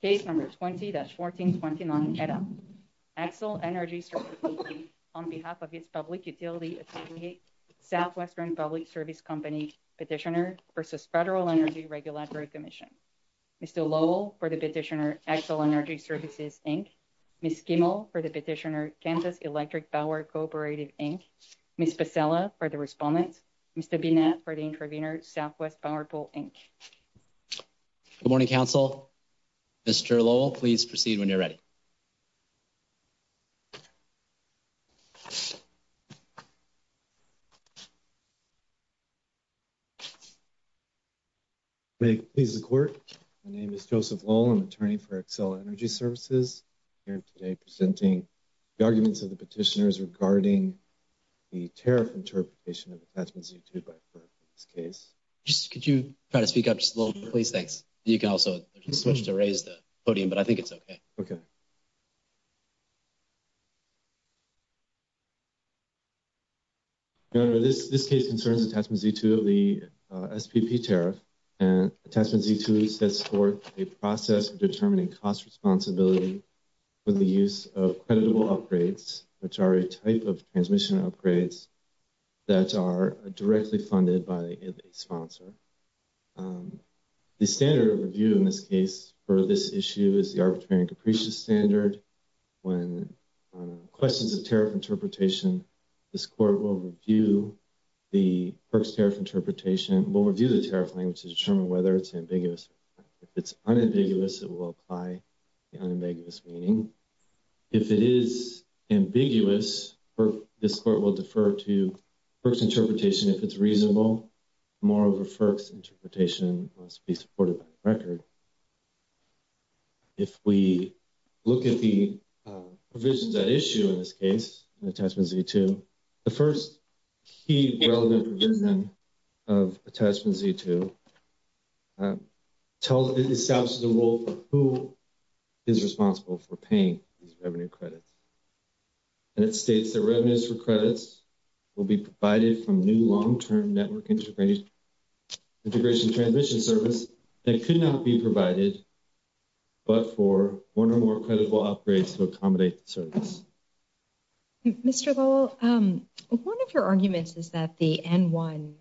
Page number 20-1429, Excel Energy Services Inc., on behalf of the Public Utility Association, Southwestern Public Service Company, Petitioner, versus Federal Energy Regulatory Commission. Mr. Lowell for the Petitioner, Excel Energy Services, Inc. Ms. Gimmel for the Petitioner, Kansas Electric Power Cooperative, Inc. Ms. Becella for the Respondent, Mr. Binet for the Intervenor, Southwest Power Pool, Inc. Good morning, Council. Mr. Lowell, please proceed when you're ready. May it please the Court, my name is Joseph Lowell, I'm an attorney for Excel Energy Services. I'm here today presenting the arguments of the Petitioners regarding the tariff and tariffication of the Federal Reserve 354 in this case. Could you try to speak up just a little bit, please? Thanks. You can also raise the podium, but I think it's okay. Okay. This case concerns attachment Z2 of the SPP tariff, and attachment Z2 sets forth a process of determining cost responsibility for the use of creditable upgrades, which are a type of transmission upgrades that are directly funded by a sponsor. The standard of review in this case for this issue is the arbitrary depreciation standard. When questioned the tariff interpretation, this Court will review the FERC's tariff interpretation, will review the tariff language to determine whether it's ambiguous. If it's unambiguous, it will apply the unambiguous meaning. If it is ambiguous, this Court will defer to FERC's interpretation. If it's reasonable, more of a FERC's interpretation must be supported by the record. If we look at the provisions at issue in this case, attachment Z2, the first key relevant provision of attachment Z2 establishes a rule for who is responsible for paying these revenue credits. And it states that revenues for credits will be provided from new long-term network integration transmission service that could not be provided but for one or more creditable upgrades to accommodate the service. Mr. Gull, one of your arguments is that the N1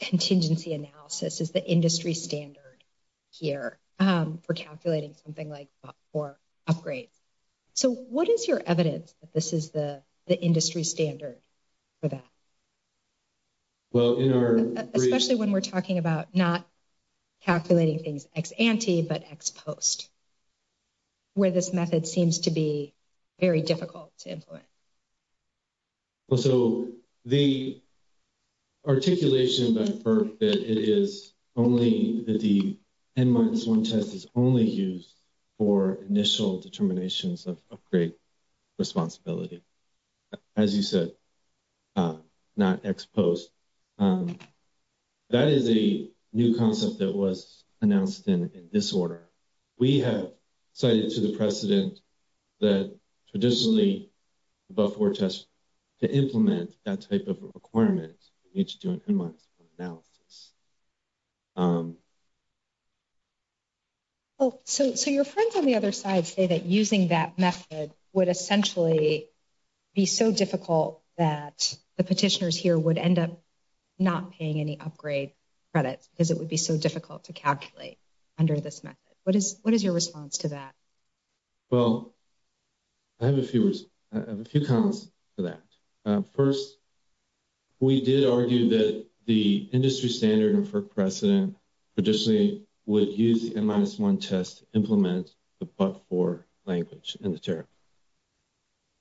contingency analysis is the industry standard here for calculating something like BOP IV upgrades. So what is your evidence that this is the industry standard for that? Especially when we're talking about not calculating things ex-ante but ex-post, where this method seems to be very difficult to implement. So the articulation by FERC that it is only that the N-1 test is only used for initial determinations of upgrade responsibility, as you said, not ex-post, that is a new concept that was announced in this order. We have cited to the precedent that traditionally the BOP IV test, to implement that type of requirement, you need to do an N-1 analysis. So your friends on the other side say that using that method would essentially be so difficult that the petitioners here would end up not paying any upgrade credits because it would be so difficult to calculate under this method. What is your response to that? Well, I have a few comments to that. First, we did argue that the industry standard and FERC precedent traditionally would use the N-1 test to implement the BOP IV language in the tariff.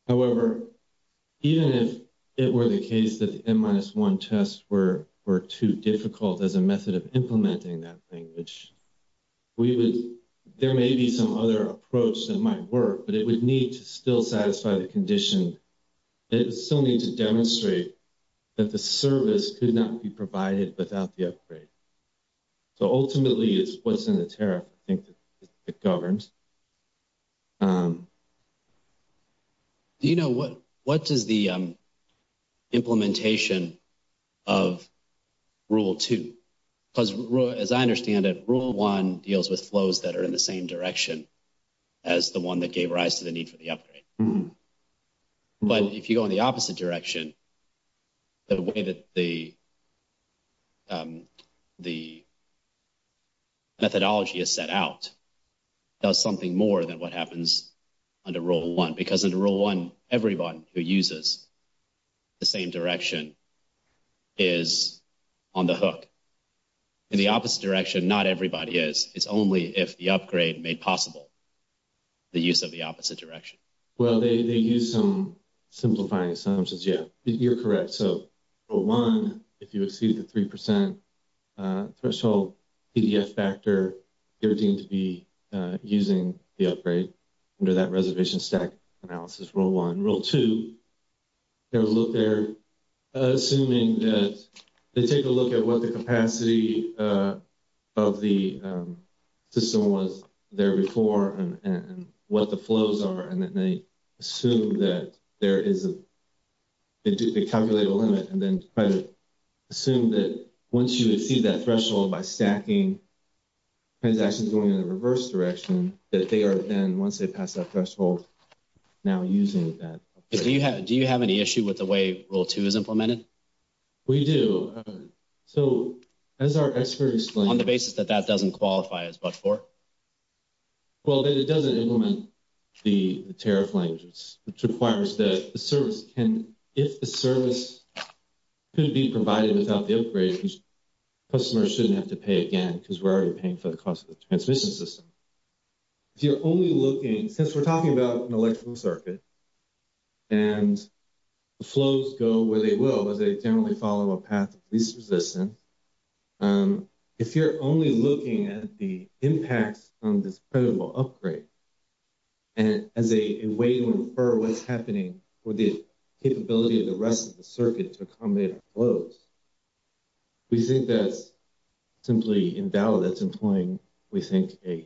However, even if it were the case that the N-1 tests were too difficult as a method of implementing that language, there may be some other approach that might work, but it would need to still satisfy the condition. It would still need to demonstrate that the service could not be provided without the upgrade. So ultimately, it's what's in the tariff that governs. Do you know what is the implementation of Rule 2? Because as I understand it, Rule 1 deals with flows that are in the same direction as the one that gave rise to the need for the upgrade. But if you go in the opposite direction, the way that the methodology is set out does something more than what happens under Rule 1. Because under Rule 1, everyone who uses the same direction is on the hook. In the opposite direction, not everybody is. It's only if the upgrade made possible the use of the opposite direction. Well, they use some simplifying assumptions. Yeah, you're correct. So Rule 1, if you receive the 3% threshold PDF factor, you're deemed to be using the upgrade under that reservation stack analysis Rule 1. Under Rule 2, they take a look at what the capacity of the system was there before and what the flows are, and then they assume that there is a – they calculate a limit and then try to assume that once you exceed that threshold by stacking transactions going in the reverse direction, that they are then, once they pass that threshold, now using that. Do you have any issue with the way Rule 2 is implemented? We do. So as our expert explained – On the basis that that doesn't qualify as Bud4? Well, it doesn't implement the tariff language, which requires that the service can – if the service could be provided without the upgrade, customers shouldn't have to pay again because we're already paying for the cost of the transmission system. If you're only looking – because we're talking about an electrical circuit, and the flows go where they will, but they generally follow a path of this position. If you're only looking at the impact on this credible upgrade as a way to infer what's happening for the capability of the rest of the circuit to accommodate the flows, we think that's simply invalid. That's employing, we think, an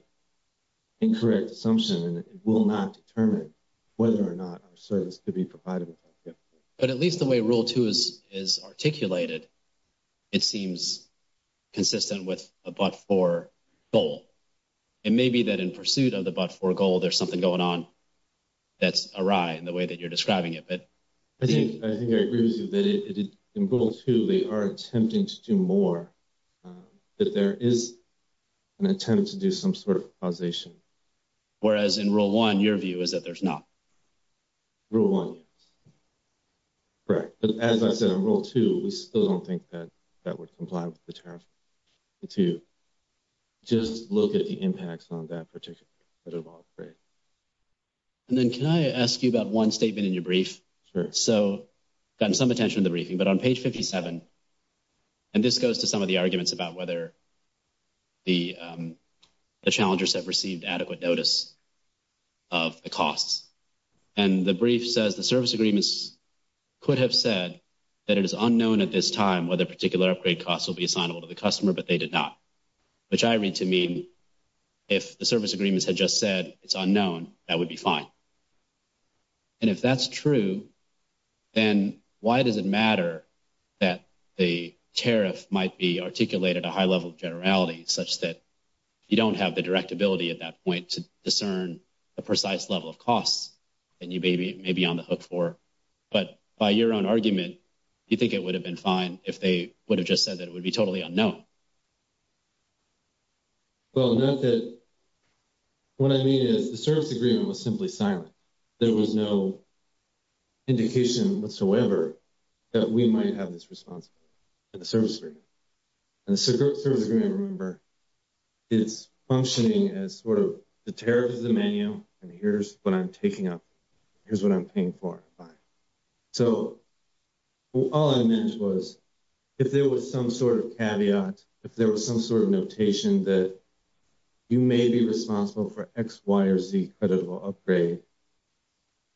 incorrect assumption, and it will not determine whether or not our service could be provided without the upgrade. But at least the way Rule 2 is articulated, it seems consistent with the Bud4 goal. It may be that in pursuit of the Bud4 goal, there's something going on that's awry in the way that you're describing it. I think I agree with you that in Rule 2, we are attempting to do more, but there is an attempt to do some sort of causation. Whereas in Rule 1, your view is that there's not. Rule 1. Correct. As I said, in Rule 2, we still don't think that that would comply with the terms of Rule 2. Just look at the impacts on that particular part of the upgrade. And then can I ask you about one statement in your brief? Sure. So I've gotten some attention in the briefing, but on page 57 – and this goes to some of the arguments about whether the challenger set received adequate notice of the costs. And the brief says the service agreements could have said that it is unknown at this time whether particular upgrade costs will be assignable to the customer, but they did not. Which I read to mean if the service agreements had just said it's unknown, that would be fine. And if that's true, then why does it matter that a tariff might be articulated at a high level of generality such that you don't have the direct ability at that point to discern the precise level of costs that you may be on the hook for? But by your own argument, do you think it would have been fine if they would have just said that it would be totally unknown? Well, not that – what I mean is the service agreement was simply silent. There was no indication whatsoever that we might have this responsibility for the service agreement. And the service agreement, remember, is functioning as sort of the tariff of the menu, and here's what I'm taking up. Here's what I'm paying for. So all I meant was if there was some sort of caveat, if there was some sort of notation that you may be responsible for X, Y, or Z creditable upgrade,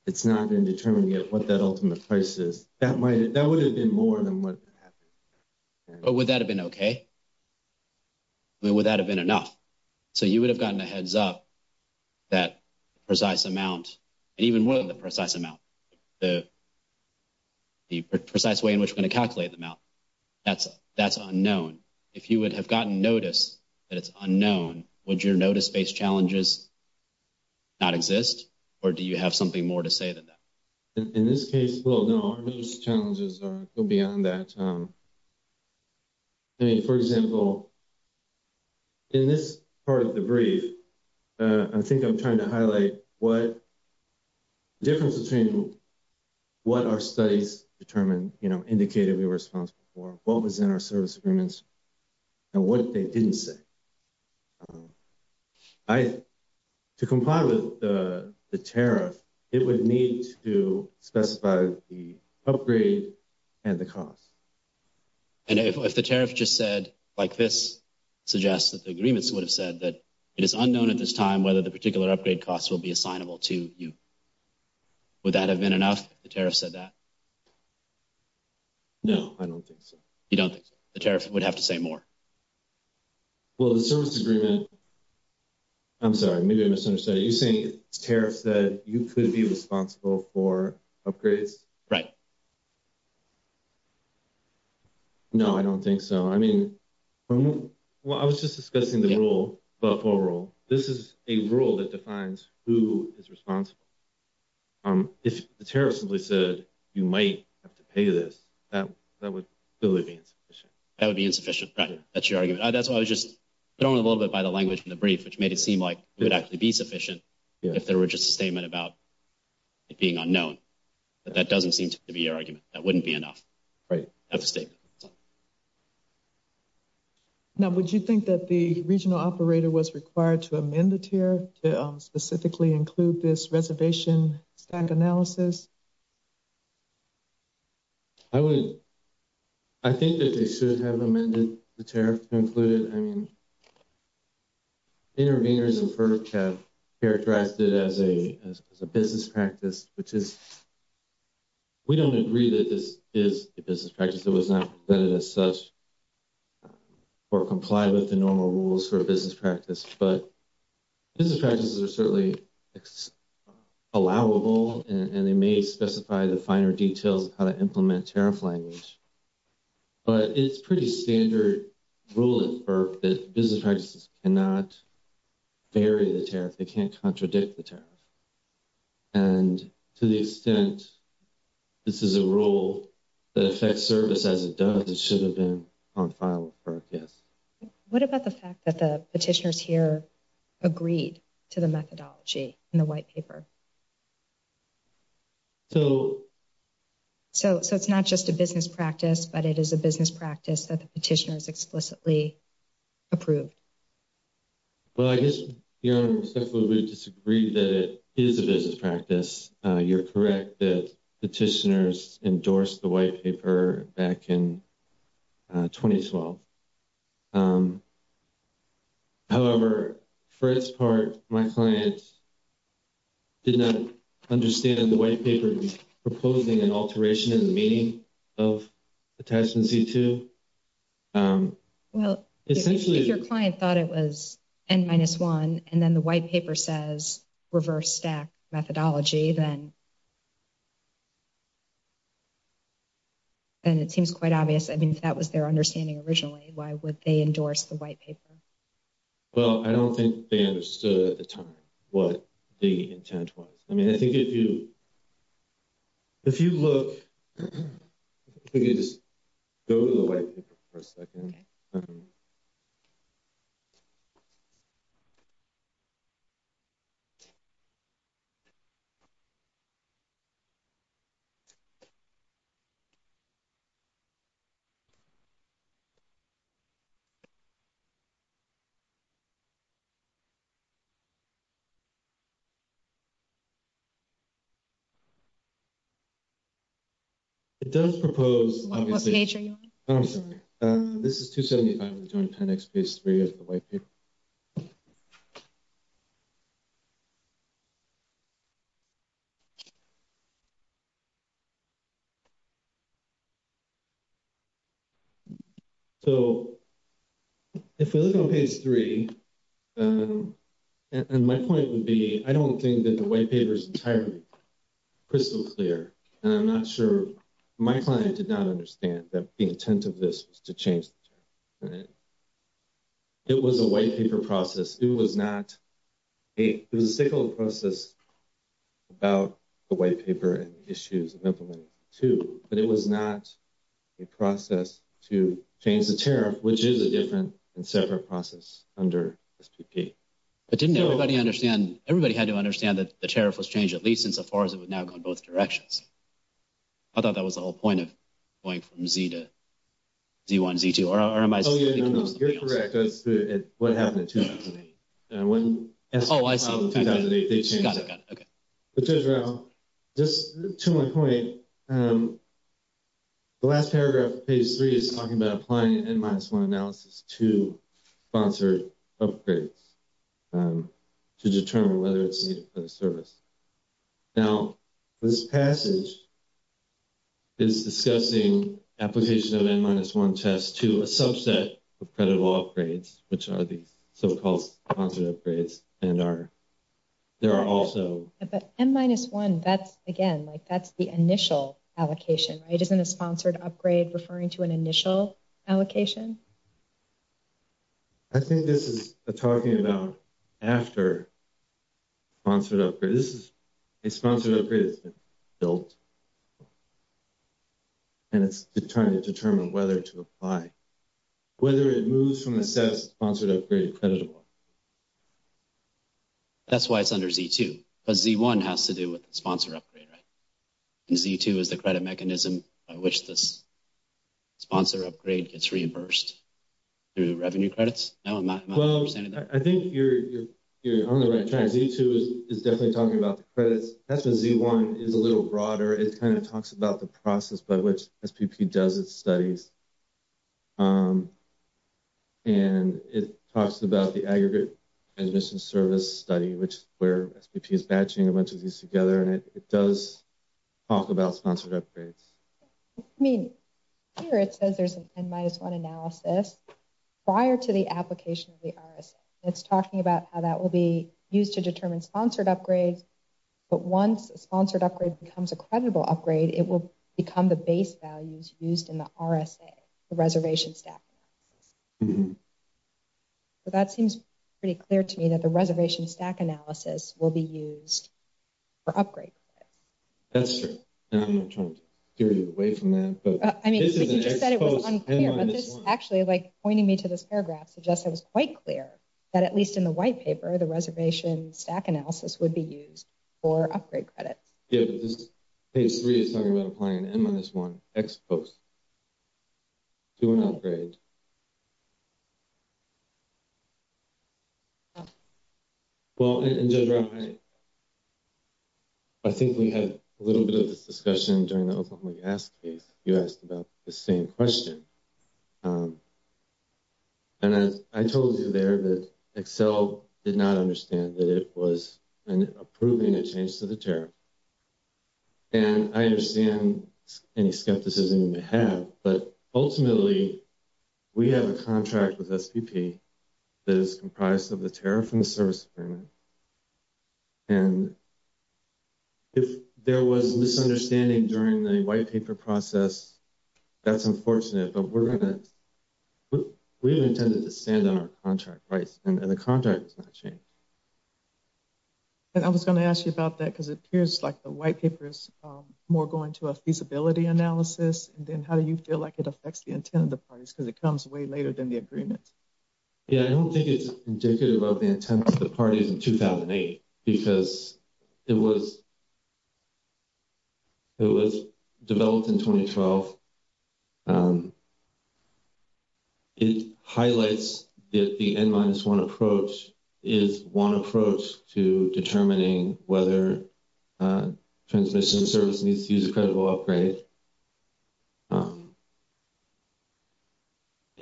it's not been determined yet what that ultimate price is. That might – that would have been more than what's happening. But would that have been okay? I mean, would that have been enough? So you would have gotten a heads up that the precise amount, and even with the precise amount, the precise way in which we're going to calculate the amount, that's unknown. If you would have gotten notice that it's unknown, would your notice-based challenges not exist, or do you have something more to say than that? In this case, well, no. Our notice challenges are beyond that. I mean, for example, in this part of the brief, I think I'm trying to highlight what – the difference between what our studies determine, you know, indicated in response before, what was in our service agreements, and what they didn't say. I – to comply with the tariff, it would need to specify the upgrade and the cost. And if the tariff just said, like this suggests that the agreements would have said that it is unknown at this time whether the particular upgrade costs will be assignable to you, would that have been enough if the tariff said that? No, I don't think so. You don't think so? The tariff would have to say more. Well, the service agreement – I'm sorry, maybe I misunderstood. Are you saying the tariff said you could be responsible for upgrades? Right. No, I don't think so. I mean – well, I was just discussing the rule, the FOA rule. This is a rule that defines who is responsible. If the tariff simply said you might have to pay this, that would still be insufficient. That would be insufficient. That's your argument. I was just thrown a little bit by the language from the brief, which made it seem like it would actually be sufficient if there were just a statement about it being unknown. But that doesn't seem to be your argument. That wouldn't be enough. Right. That's a statement. Now, would you think that the regional operator was required to amend the tier to specifically include this reservation bank analysis? I would – I think that they should have amended the tariff to include it. I mean, interveners and perks have characterized it as a business practice, which is – we don't agree that this is a business practice. It was not presented as such or complied with the normal rules for a business practice. But business practices are certainly allowable, and they may specify the finer details of how to implement tariff language. But it's a pretty standard rule at FERC that business practices cannot vary the tariff. They can't contradict the tariff. And to the extent this is a rule that affects service as it does, it should have been on file with FERC, yes. What about the fact that the petitioners here agreed to the methodology in the white paper? So – So it's not just a business practice, but it is a business practice that the petitioners explicitly approved. Well, I guess Your Honor, we simply would disagree that it is a business practice. You're correct that petitioners endorsed the white paper back in 2012. However, for its part, my client did not understand the white paper proposing an alteration in the meaning of Attachment C-2. Well, if your client thought it was N-1 and then the white paper says reverse stack methodology, then it seems quite obvious – I mean, if that was their understanding originally, why would they endorse the white paper? Well, I don't think they understood at the time what the intent was. I mean, I think if you – if you look – There was a white paper for a second. Okay. Okay. It does propose – Of nature, Your Honor. This is 275. Okay. Next page 3 of the white paper. So if we look on page 3, and my point would be I don't think that the white paper is entirely crystal clear, and I'm not sure – my client did not understand that the intent of this was to change the system. It was a white paper process. It was not a – it was a single process about the white paper and the issues of implementing it, too. But it was not a process to change the tariff, which is a different and separate process under SPP. But didn't everybody understand – everybody had to understand that the tariff was changed at least insofar as it would now go in both directions. I thought that was the whole point of going from Z to Z1, Z2. Or am I – Oh, yeah, no. It's correct. It's what happened in 2008. And it wasn't – Oh, I see. In 2008, they changed it. Got it. Okay. To my point, the last paragraph of page 3 is talking about applying an N-minus-1 analysis to sponsored upgrades to determine whether it's a service. Now, this passage is discussing application of N-minus-1 tests to a subset of credit law upgrades, which are the so-called sponsored upgrades, and are – there are also – But N-minus-1, that's – again, like, that's the initial allocation, right? Isn't a sponsored upgrade referring to an initial allocation? I think this is talking about after sponsored upgrade. This is a sponsored upgrade that's been built, and it's trying to determine whether to apply. Whether it moves from the status of sponsored upgrade to credit law. That's why it's under Z2. But Z1 has to do with sponsor upgrade, right? And Z2 is the credit mechanism by which the sponsor upgrade gets reversed through revenue credits? No, I'm not 100% of that. Well, I think you're on the right track. Z2 is definitely talking about the credits. That's when Z1 is a little broader. It kind of talks about the process by which SPP does its studies. And it talks about the aggregate transmission service study, which is where SPP is batching a bunch of these together. And it does talk about sponsored upgrades. I mean, here it says there's an N-minus-1 analysis prior to the application of the RSA. It's talking about how that will be used to determine sponsored upgrades. But once a sponsored upgrade becomes a creditable upgrade, it will become the base values used in the RSA, the reservation stack. So that seems pretty clear to me that the reservation stack analysis will be used for upgrade credit. That's true. I'm not trying to steer you away from that. I mean, you just said it was unclear. But this is actually, like, pointing me to this paragraph suggests it was quite clear that at least in the white paper, the reservation stack analysis would be used for upgrade credit. Yeah, but this page 3 is talking about applying an N-minus-1 X post to an upgrade. Well, and JoJo, I think we had a little bit of this discussion during the Oklahoma gas case. You asked about the same question. And I told you there that Excel did not understand that it was approving a change to the tariff. And I understand any skepticism you may have. But ultimately, we have a contract with SPP that is comprised of the tariff and the service standard. And if there was a misunderstanding during the white paper process, that's unfortunate. But we're going to – we intended to stand on our contract, right? And the contract has not changed. And I was going to ask you about that because it appears like the white paper is more going to a feasibility analysis. And then how do you feel like it affects the intent of the parties? Because it comes way later than the agreement. Yeah, I don't think it's indicative of the intent of the party in 2008 because it was developed in 2012. It highlights if the N-minus-1 approach is one approach to determining whether a transmission service needs to use a creditable upgrade. But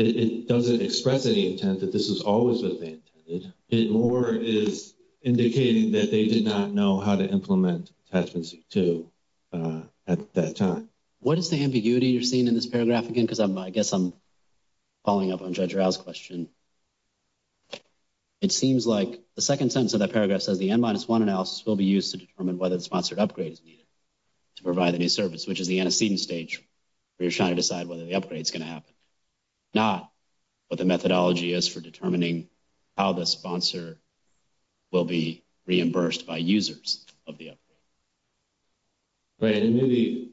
it doesn't express any intent that this is always what they intended. It more is indicating that they did not know how to implement Section 62 at that time. What is the ambiguity you're seeing in this paragraph again? Because I guess I'm following up on Judge Rao's question. It seems like the second sentence of that paragraph says the N-minus-1 analysis will be used to determine whether the sponsored upgrade is needed to provide a new service, which is the antecedent stage where you're trying to decide whether the upgrade is going to happen. Not what the methodology is for determining how the sponsor will be reimbursed by users of the upgrade.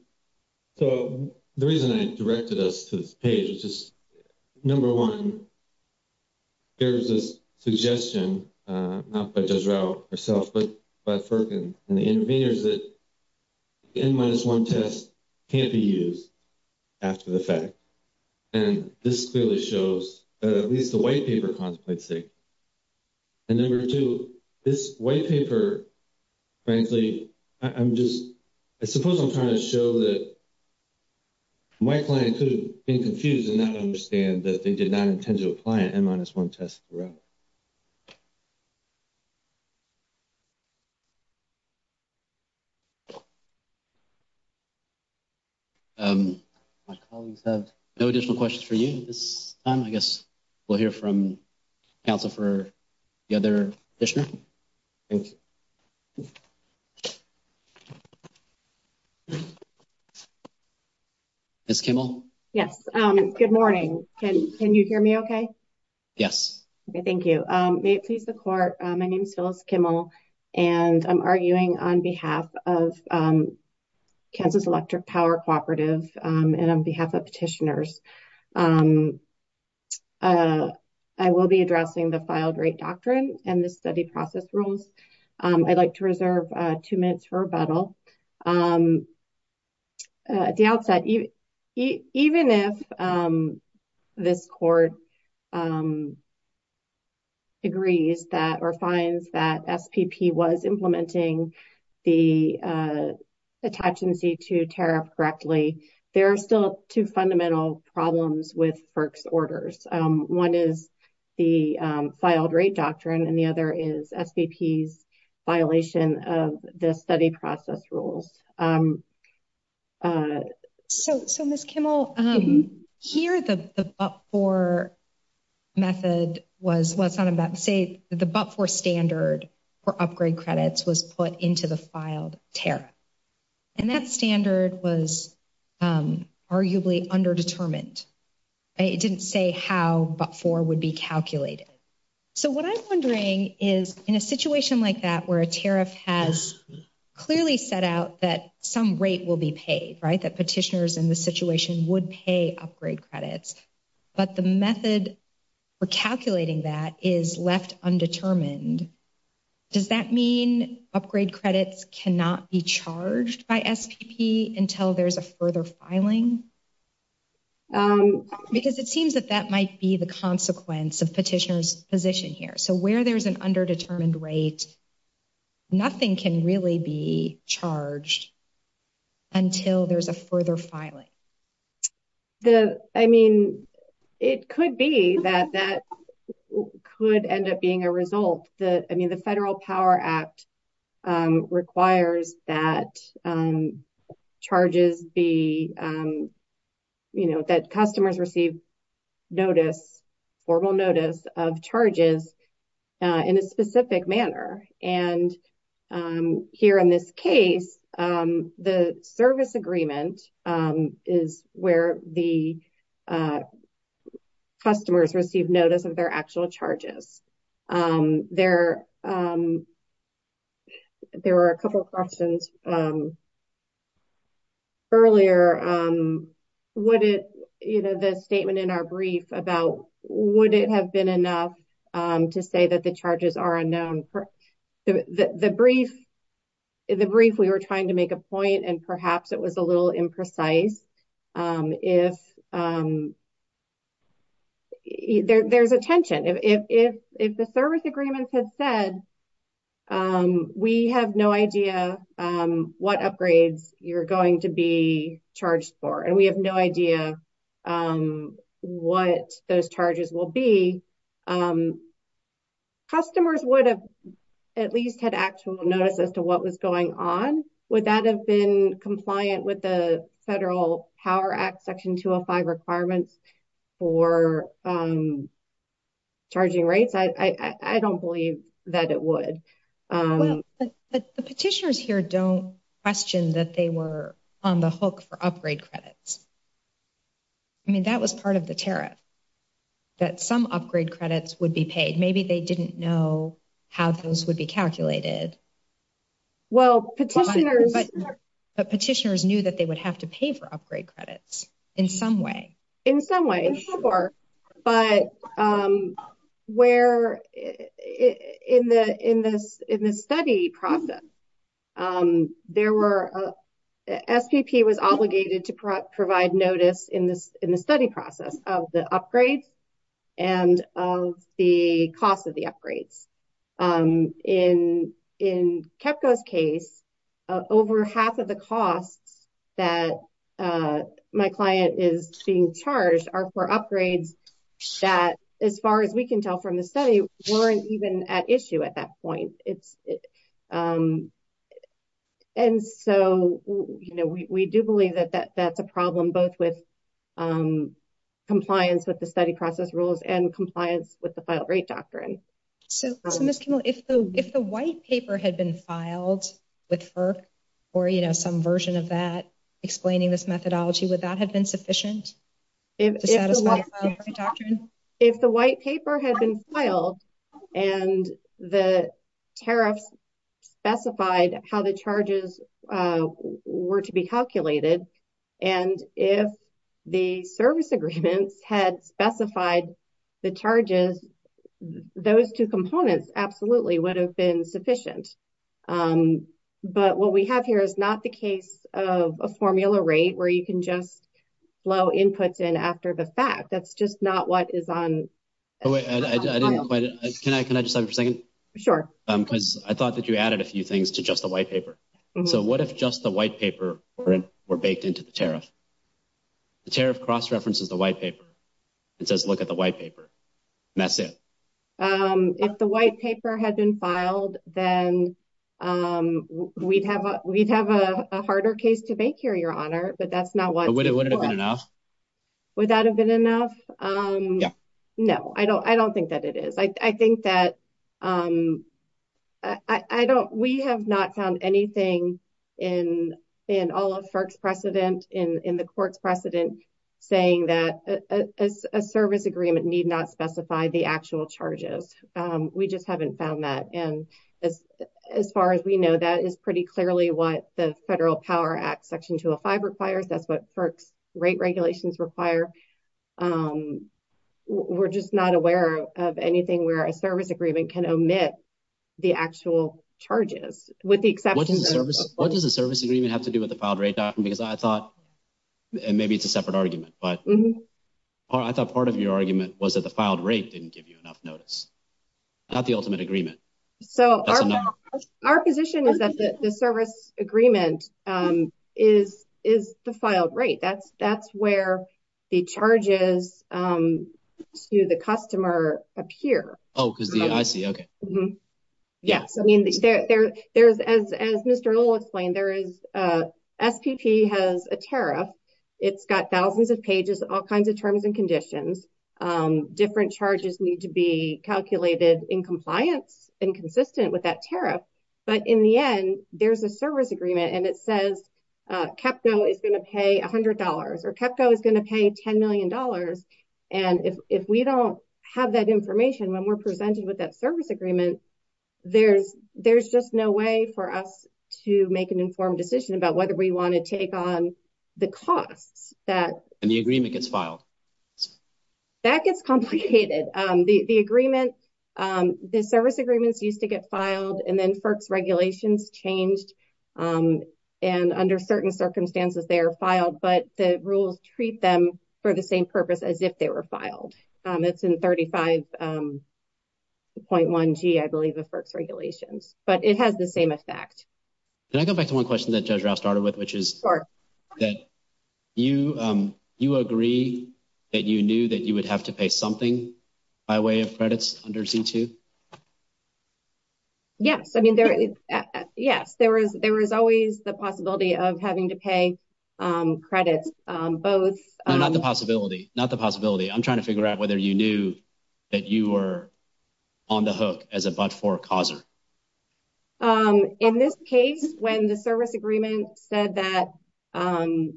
The reason I directed us to this page is, number one, there is a suggestion, not by Judge Rao herself, but by FERC and the interveners, that the N-minus-1 test can't be used after the fact. And this clearly shows, at least the white paper contemplates it. And number two, this white paper, frankly, I'm just, I suppose I'm trying to show that my clients who have been confused do not understand that they did not intend to apply an N-minus-1 test throughout. My colleagues have no additional questions for you at this time. I guess we'll hear from counsel for the other commissioners. Ms. Kimmel? Yes, good morning. Can you hear me okay? Yes. Okay, thank you. May it please the Court, my name is Phyllis Kimmel, and I'm arguing on behalf of Campus Electric Power Cooperative and on behalf of petitioners. I will be addressing the filed rate doctrine and the study process rules. I'd like to reserve two minutes for rebuttal. At the outset, even if this Court agrees that or finds that SPP was implementing the attachment D-2 tariff correctly, there are still two fundamental problems with FERC's orders. One is the filed rate doctrine, and the other is SPP's violation of the study process rules. So, Ms. Kimmel, here the but-for method was, well, it's not a but. Say the but-for standard for upgrade credits was put into the filed tariff. And that standard was arguably underdetermined. It didn't say how but-for would be calculated. So what I'm wondering is, in a situation like that where a tariff has clearly set out that some rate will be paid, right, that petitioners in this situation would pay upgrade credits, but the method for calculating that is left undetermined. Does that mean upgrade credits cannot be charged by SPP until there's a further filing? Because it seems that that might be the consequence of petitioners' position here. So where there's an underdetermined rate, nothing can really be charged until there's a further filing. I mean, it could be that that could end up being a result. I mean, the Federal Power Act requires that charges be, you know, that customers receive notice, formal notice of charges in a specific manner. And here in this case, the service agreement is where the customers receive notice of their actual charges. There were a couple of questions earlier. What is, you know, the statement in our brief about would it have been enough to say that the charges are unknown? The brief we were trying to make a point, and perhaps it was a little imprecise. There's a tension. If the service agreement has said we have no idea what upgrades you're going to be charged for and we have no idea what those charges will be, customers would have at least had actual notice as to what was going on. Would that have been compliant with the Federal Power Act Section 205 requirements for charging rates? I don't believe that it would. But the petitioners here don't question that they were on the hook for upgrade credits. I mean, that was part of the tariff, that some upgrade credits would be paid. Maybe they didn't know how those would be calculated. Well, petitioners knew that they would have to pay for upgrade credits in some way. In some way, in some part. But where, in the study process, there were, SPP was obligated to provide notice in the study process of the upgrades and of the cost of the upgrades. In KEPCO's case, over half of the costs that my client is being charged are for upgrades that, as far as we can tell from the study, weren't even at issue at that point. And so, you know, we do believe that that's a problem, both with compliance with the study process rules and compliance with the filed rate doctrine. So, if the white paper had been filed with FERC, or, you know, some version of that explaining this methodology, would that have been sufficient? If the white paper had been filed and the tariff specified how the charges were to be calculated, and if the service agreement had specified the charges, those two components absolutely would have been sufficient. But what we have here is not the case of a formula rate where you can just blow inputs in after the fact. That's just not what is on. Can I just have a second? Sure. Because I thought that you added a few things to just the white paper. So what if just the white paper were baked into the tariff? The tariff cross-references the white paper. It says, look at the white paper. And that's it. If the white paper had been filed, then we'd have a harder case to bake here, Your Honor, but that's not what. Would it have been enough? Would that have been enough? Yeah. No, I don't think that it is. I think that we have not found anything in all of FERC's precedent, in the court's precedent, saying that a service agreement need not specify the actual charges. We just haven't found that. And as far as we know, that is pretty clearly what the Federal Power Act Section 205 requires. That's what FERC's rate regulations require. We're just not aware of anything where a service agreement can omit the actual charges, with the exception of. What does a service agreement have to do with the filed rate doctrine? Because I thought, and maybe it's a separate argument, but I thought part of your argument was that the filed rate didn't give you enough notice, not the ultimate agreement. So, our position is that the service agreement is the filed rate. That's where the charges to the customer appear. Oh, I see. Okay. Yes, I mean, there's, as Mr. Lowe explained, there is, SPP has a tariff. It's got thousands of pages, all kinds of terms and conditions. Different charges need to be calculated in compliance and consistent with that tariff. But in the end, there's a service agreement, and it says, KEPCO is going to pay $100, or KEPCO is going to pay $10 million. And if we don't have that information when we're presented with that service agreement, there's just no way for us to make an informed decision about whether we want to take on the cost. And the agreement gets filed. That gets complicated. The agreement, the service agreements used to get filed, and then FERC's regulations changed. And under certain circumstances, they are filed, but the rules treat them for the same purpose as if they were filed. It's in 35.1G, I believe, of FERC's regulations. But it has the same effect. Can I go back to one question that Judge Rao started with, which is that you agree that you knew that you would have to pay something by way of credits under C-2? Yes, I mean, there is, yes, there is always the possibility of having to pay credits. Not the possibility, not the possibility. I'm trying to figure out whether you knew that you were on the hook as a but-for-causer. In this case, when the service agreement said that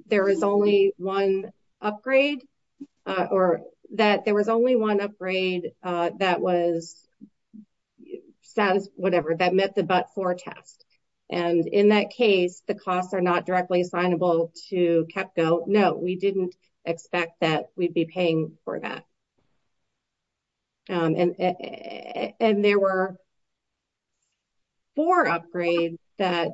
there was only one upgrade, or that there was only one upgrade that was status, whatever, that met the but-for-tax. And in that case, the costs are not directly assignable to KEPCO. No, we didn't expect that we'd be paying for that. And there were four upgrades that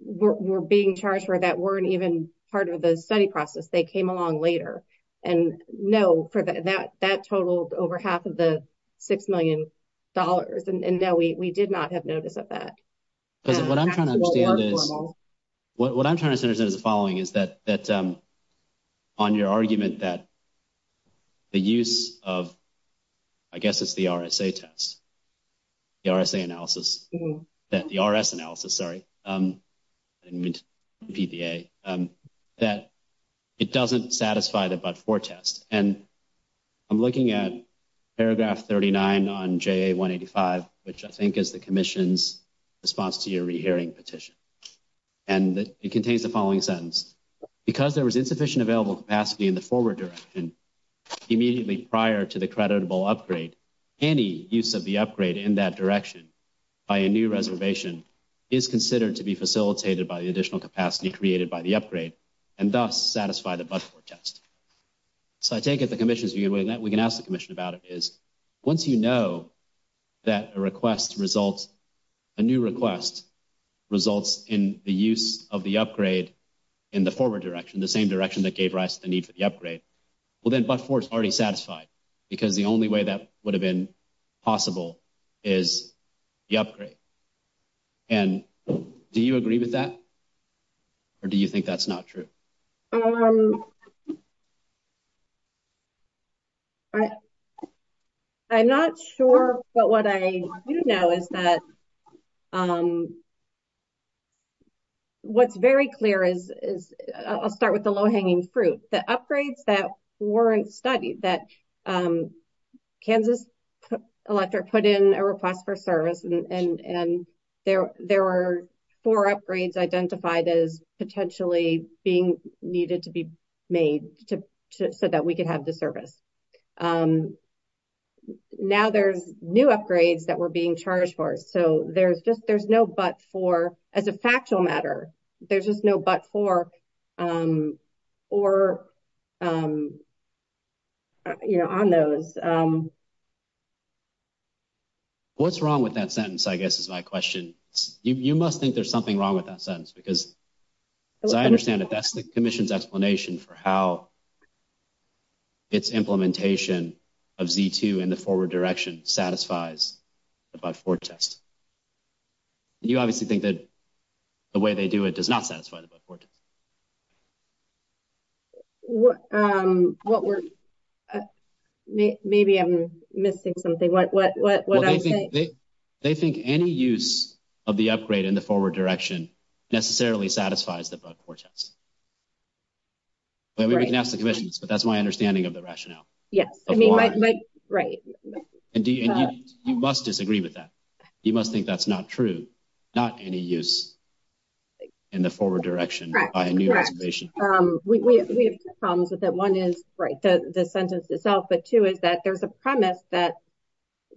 were being charged for that weren't even part of the study process. They came along later. And no, that totals over half of the $6 million. And no, we did not have notice of that. What I'm trying to understand is, what I'm trying to understand is the following, is that on your argument that the use of, I guess it's the RSA test, the RSA analysis, that the RS analysis, sorry, PBA, that it doesn't satisfy the but-for test. And I'm looking at paragraph 39 on JA 185, which I think is the commission's response to your rehearing petition. And it contains the following sentence. Because there was insufficient available capacity in the forward direction immediately prior to the creditable upgrade, any use of the upgrade in that direction by a new reservation is considered to be facilitated by the additional capacity created by the upgrade, and thus satisfy the but-for test. So I take it the commission's view, and we can ask the commission about it, is once you know that a request results, a new request results in the use of the upgrade in the forward direction, the same direction that gave rise to the need for the upgrade, well, then but-for is already satisfied. Because the only way that would have been possible is the upgrade. And do you agree with that? Or do you think that's not true? I'm not sure, but what I do know is that what's very clear is, I'll start with the low-hanging fruit. It's the upgrades that weren't studied, that Kansas Electorate put in a request for service, and there were four upgrades identified as potentially being needed to be made so that we could have the service. Now there's new upgrades that were being charged for, so there's no but-for as a factual matter. There's just no but-for on those. What's wrong with that sentence, I guess, is my question. You must think there's something wrong with that sentence, because as I understand it, that's the commission's explanation for how its implementation of Z-2 in the forward direction satisfies the but-for test. You obviously think that the way they do it does not satisfy the but-for test. Maybe I'm missing something. They think any use of the upgrade in the forward direction necessarily satisfies the but-for test. That's my understanding of the rationale. You must disagree with that. You must think that's not true. Not any use in the forward direction. We have two problems with that. One is the sentence itself, but two is that there's a premise that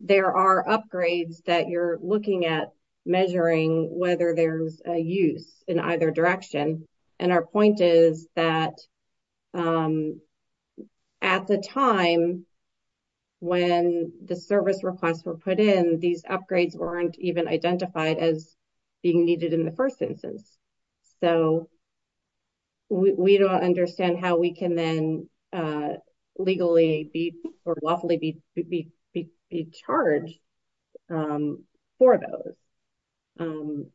there are upgrades that you're looking at measuring whether there's a use in either direction. Our point is that at the time when the service requests were put in, these upgrades weren't even identified as being needed in the first sentence. So, we don't understand how we can then legally or lawfully be charged for those.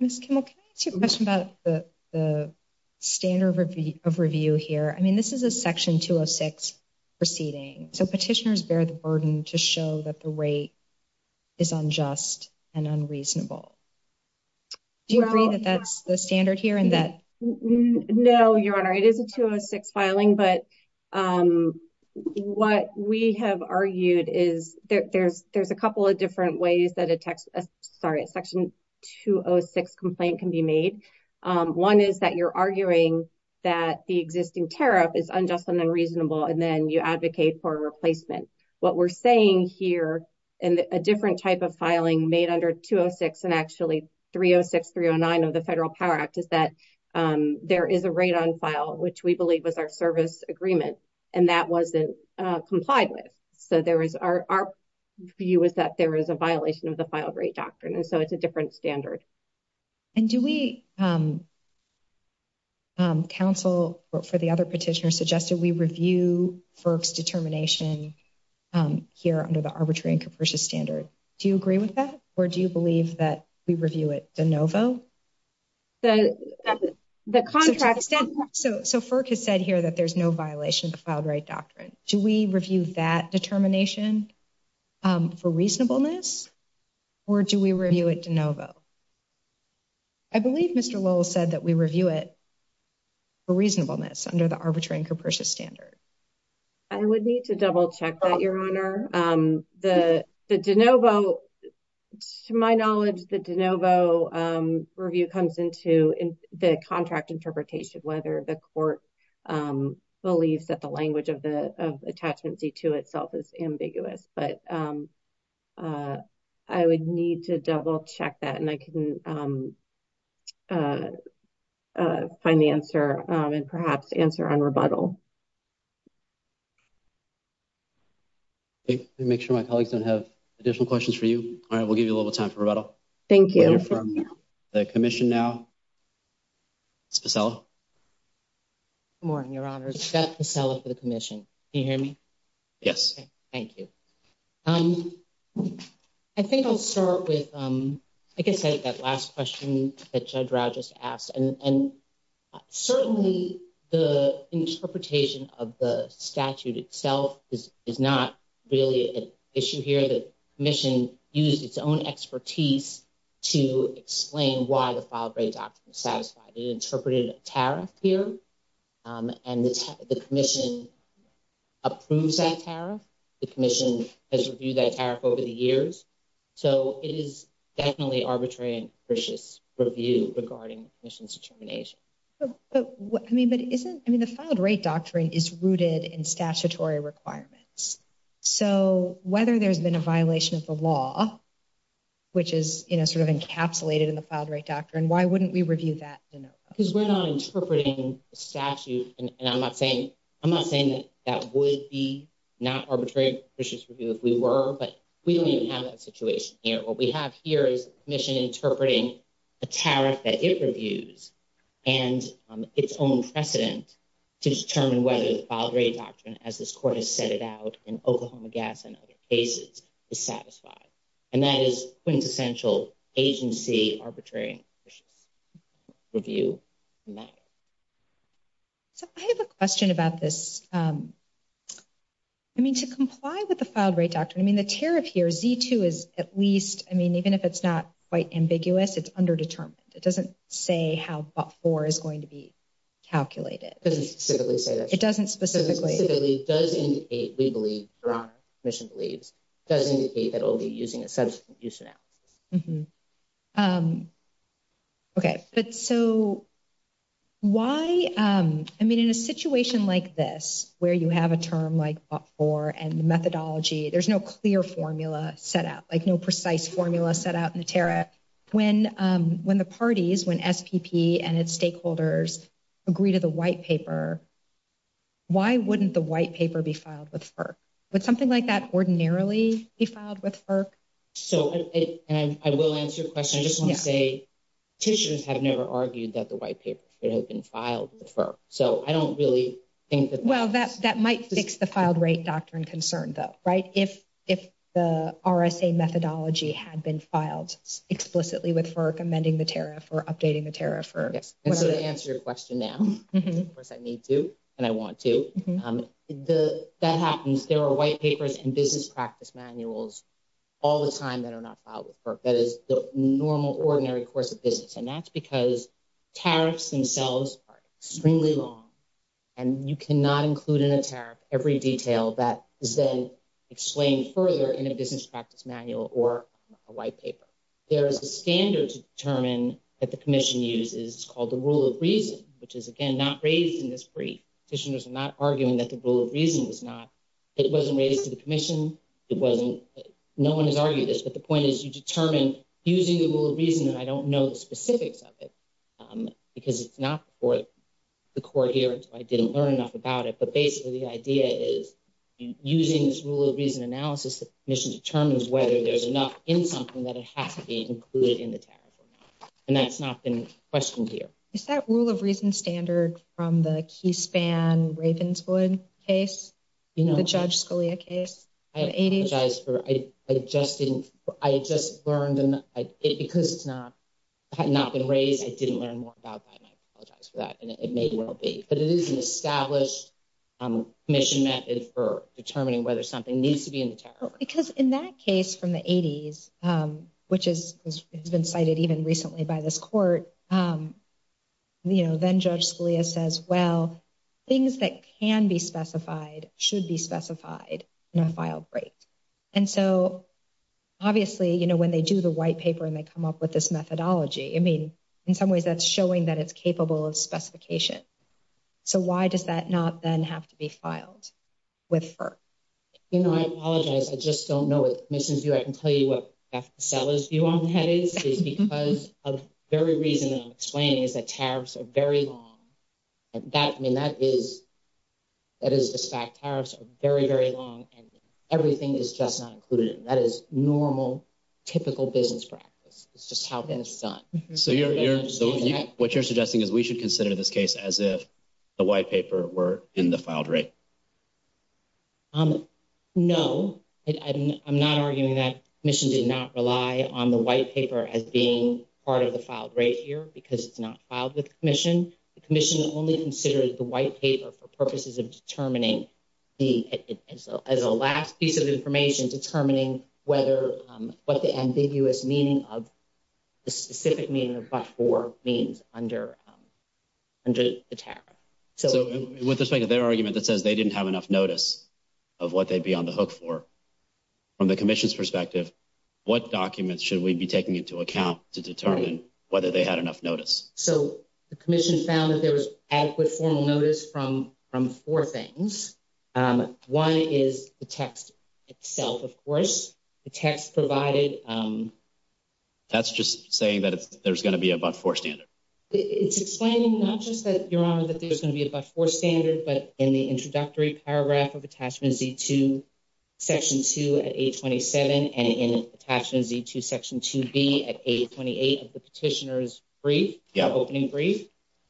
Ms. Kimmel, can I ask you a question about the standard of review here? I mean, this is a Section 206 proceeding, so petitioners bear the burden to show that the rate is unjust and unreasonable. Do you agree that that's the standard here? No, Your Honor. It is a 206 filing, but what we have argued is there's a couple of different ways that a Section 206 complaint can be made. One is that you're arguing that the existing tariff is unjust and unreasonable, and then you advocate for a replacement. What we're saying here in a different type of filing made under 206 and actually 306-309 of the Federal Power Act is that there is a rate on file, which we believe was our service agreement, and that wasn't complied with. So, our view is that there is a violation of the filed rate doctrine, and so it's a different standard. And do we, counsel, for the other petitioners, suggest that we review FERC's determination here under the Arbitrary and Compersion Standard? Do you agree with that, or do you believe that we review it de novo? So, FERC has said here that there's no violation of the filed rate doctrine. Do we review that determination for reasonableness, or do we review it de novo? I believe Mr. Lowell said that we review it for reasonableness under the Arbitrary and Compersion Standard. I would need to double-check that, Your Honor. The de novo, to my knowledge, the de novo review comes into the contract interpretation, whether the court believes that the language of attachment C-2 itself is ambiguous. But I would need to double-check that, and I can find the answer, and perhaps answer on rebuttal. Let me make sure my colleagues don't have additional questions for you. All right, we'll give you a little time for rebuttal. Thank you. We'll hear from the Commission now. Ms. Pacella? Good morning, Your Honor. Scott Pacella for the Commission. Can you hear me? Yes. Thank you. I think I'll start with, like I said, that last question that Judge Rogers asked. And certainly the interpretation of the statute itself is not really an issue here. The Commission used its own expertise to explain why the filed rate doctrine is satisfied. It interpreted a tariff here, and the Commission approves that tariff. The Commission has reviewed that tariff over the years. So it is definitely arbitrary and imprecious review regarding the Commission's determination. I mean, the filed rate doctrine is rooted in statutory requirements. So whether there's been a violation of the law, which is sort of encapsulated in the filed rate doctrine, why wouldn't we review that? Because we're not interpreting the statute, and I'm not saying that would be not arbitrary and imprecious review if we were, but we don't even have that situation here. So what we have here is the Commission interpreting a tariff that it reviews and its own precedent to determine whether the filed rate doctrine, as this Court has set it out in Oklahoma Gas and Other Cases, is satisfied. And that is quintessential agency arbitrary and imprecious review. I have a question about this. I mean, to comply with the filed rate doctrine, I mean, the tariff here, Z2, is at least, I mean, even if it's not quite ambiguous, it's underdetermined. It doesn't say how far is going to be calculated. It doesn't specifically. It doesn't specifically. It does indicate, we believe, the Commission believes, does indicate that it will be using a subsequent use now. Okay. So why, I mean, in a situation like this, where you have a term like OPFOR and the methodology, there's no clear formula set out, like no precise formula set out in the tariff. When the parties, when SPP and its stakeholders agree to the white paper, why wouldn't the white paper be filed with FERC? Would something like that ordinarily be filed with FERC? So, and I will answer your question. I just want to say, tissues have never argued that the white paper should have been filed with FERC. So I don't really think that. Well, that might fix the filed rate doctrine concern, though, right? If the RSA methodology had been filed explicitly with FERC amending the tariff or updating the tariff. Yes. I'm going to answer your question now. Of course, I need to and I want to. That happens. There are white papers and business practice manuals all the time that are not filed with FERC. That is the normal, ordinary course of business. And that's because tariffs themselves are extremely long and you cannot include in a tariff every detail that is then explained further in a business practice manual or a white paper. There is a standard to determine that the commission uses called the rule of reason, which is, again, not raised in this brief. The petitioners are not arguing that the rule of reason is not. It wasn't rated to the commission. It wasn't. No one has argued this. But the point is you determine using the rule of reason, and I don't know the specifics of it because it's not before the court here, so I didn't learn enough about it. But basically, the idea is using this rule of reason analysis, the commission determines whether there's enough in something that it has to be included in the tariff. And that's not been questioned here. Is that rule of reason standard from the Keyspan Ravenswood case, the Judge Scalia case in the 80s? I apologize for it. I just didn't – I just learned – because it's not – had not been raised, I didn't learn more about that. And I apologize for that. And it may well be. But it is an established commission method for determining whether something needs to be in the tariff. Because in that case from the 80s, which has been cited even recently by this court, you know, then Judge Scalia says, well, things that can be specified should be specified in a file break. And so obviously, you know, when they do the white paper and they come up with this methodology, I mean, in some ways that's showing that it's capable of specification. So why does that not then have to be filed with FERC? You know, I apologize. I just don't know. If this is you, I can tell you what the seller's view on this is. It's because of the very reason that I'm explaining is that tariffs are very long. And that – I mean, that is – that is a fact. Tariffs are very, very long. And everything is just not included. And that is normal, typical business practice. It's just how things are done. So what you're suggesting is we should consider this case as if the white paper were in the file break? No. I'm not arguing that the commission did not rely on the white paper as being part of the file break here because it's not filed with the commission. The commission only considers the white paper for purposes of determining the – as a last piece of information determining whether – what the ambiguous meaning of – the specific meaning of class 4 means under the tariff. So with respect to their argument that says they didn't have enough notice of what they'd be on the hook for, from the commission's perspective, what documents should we be taking into account to determine whether they had enough notice? So the commission found that there was adequate formal notice from four things. One is the text itself, of course. The text provided – That's just saying that there's going to be above four standards. It's explaining not just that, Your Honor, that there's going to be above four standards, but in the introductory paragraph of Attachment Z2, Section 2 at 827 and in Attachment Z2, Section 2B at 828 of the petitioner's brief, opening brief,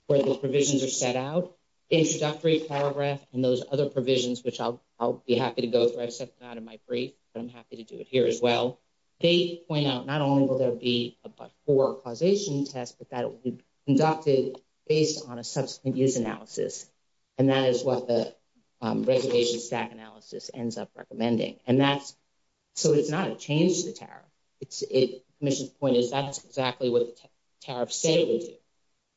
where the provisions are set out. In the introductory paragraph and those other provisions, which I'll be happy to go through. I set them out in my brief. I'm happy to do it here as well. They point out not only will there be above four causation tests, but that it will be conducted based on a subsequent use analysis. And that is what the reservation stack analysis ends up recommending. And that's – so it's not a change to the tariff. The commission's point is that's exactly what the tariff statement is.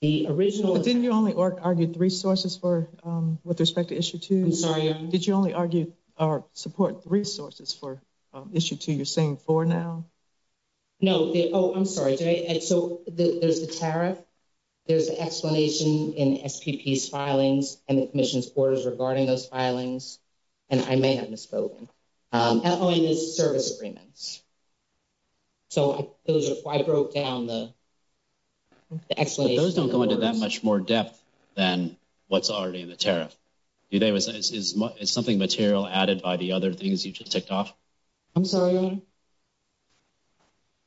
The original – But didn't you only argue three sources for – with respect to Issue 2? I'm sorry, Your Honor. Did you only argue support resources for Issue 2? You're saying four now? No. Oh, I'm sorry. So there's the tariff. There's the explanation in SPP's filings and the commission's orders regarding those filings. And I may have misspoken. Oh, and the service agreements. So I broke down the explanation. Those don't go into that much more depth than what's already in the tariff. Is something material added by the other things you just ticked off? I'm sorry, Your Honor?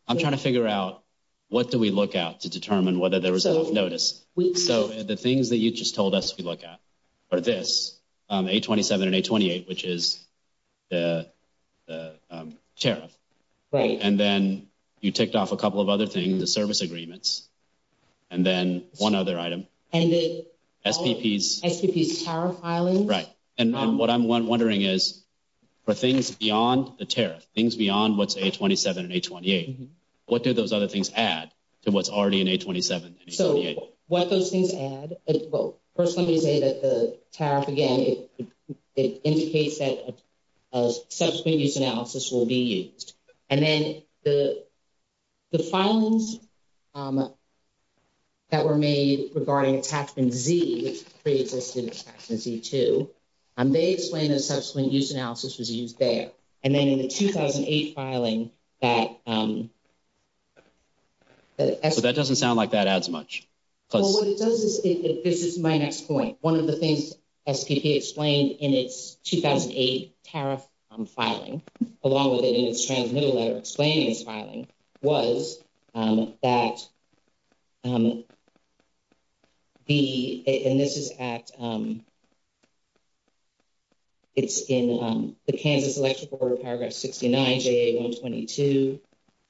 I'm trying to figure out what do we look at to determine whether there is a notice. So the things that you just told us to look at are this, 827 and 828, which is the tariff. Right. And then you ticked off a couple of other things, the service agreements. And then one other item. And the SPP's tariff filings. Right. And what I'm wondering is for things beyond the tariff, things beyond what's 827 and 828, what did those other things add to what's already in 827 and 828? So what those things add is both. First, let me say that the tariff, again, it indicates that a subsequent use analysis will be used. And then the filings that were made regarding TACS and Z, 336, TACS and Z2, they explain that a subsequent use analysis was used there. And then in the 2008 filing, that- So that doesn't sound like that adds much. This is my next point. One of the things SPP explained in its 2008 tariff filing, along with it in its transmittal letter explaining its filing, was that the- And this is at- It's in the Kansas Election Board, Paragraph 69, JA-122.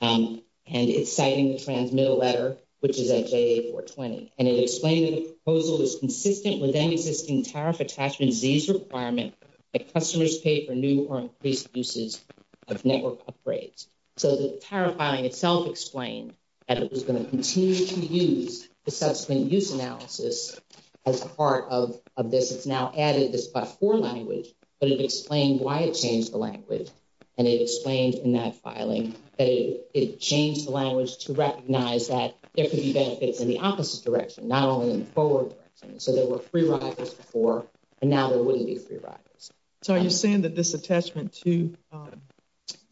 And it's cited in the transmittal letter, which is at JA-420. And it explained that the proposal is consistent with any existing tariff attachment Z's requirement that customers pay for new or increased uses of network upgrades. So the tariff filing itself explains that it was going to continue to use the subsequent use analysis as part of this. It's now added this by foreign language, but it explains why it changed the language. And it explains in that filing that it changed the language to recognize that there could be benefits in the opposite direction, not only in the forward direction. So there were free riders before, and now there wouldn't be free riders. So are you saying that this attachment to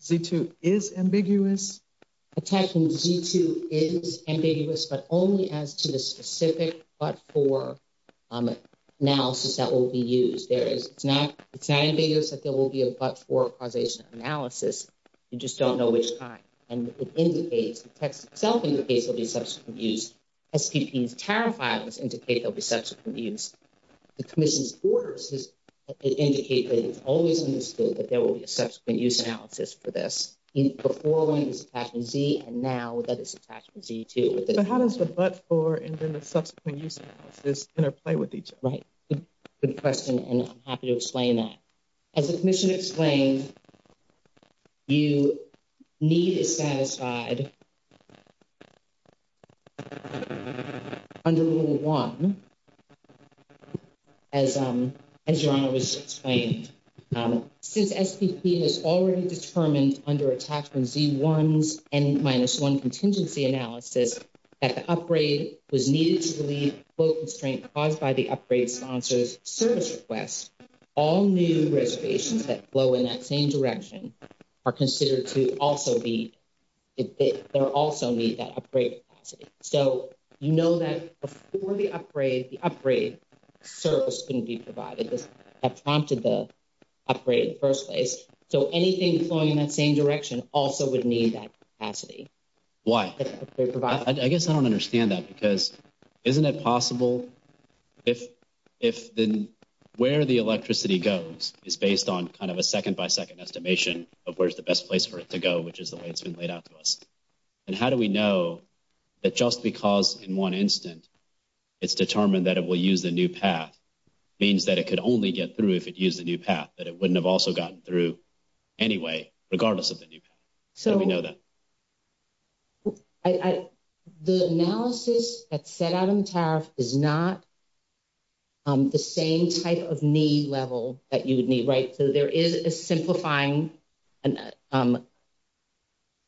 Z2 is ambiguous? Attachment Z2 is ambiguous, but only as to the specific but-for analysis that will be used. It's not ambiguous that there will be a but-for causation analysis. You just don't know which kind. And it indicates, the text itself indicates that there will be subsequent use. SPP's tariff filing indicates there will be subsequent use. The commission's orders indicate that it's always understood that there will be a subsequent use analysis for this. Before, it was attachment Z, and now that is attachment Z2. So how does the but-for and then the subsequent use analysis interplay with each other? Right. Good question, and I'm happy to explain that. As the commission explained, you need a satisfied under Rule 1, as Joanna just explained. Since SPP has already determined under attachment Z1's N-1 contingency analysis that the upgrade was needed to relieve post-constraint caused by the upgrade sponsor's service request, all new registrations that flow in that same direction are considered to also need that upgrade capacity. So you know that before the upgrade, the upgrade service couldn't be provided. That prompted the upgrade in the first place. So anything flowing in that same direction also would need that capacity. Why? I guess I don't understand that because isn't it possible if where the electricity goes is based on kind of a second-by-second estimation of where's the best place for it to go, which is the way it's been laid out to us. And how do we know that just because in one instance it's determined that it will use the new path means that it could only get through if it used the new path, that it wouldn't have also gotten through anyway regardless of the new path? So the analysis that's set out in the tariff is not the same type of need level that you would need, right? So there is a simplifying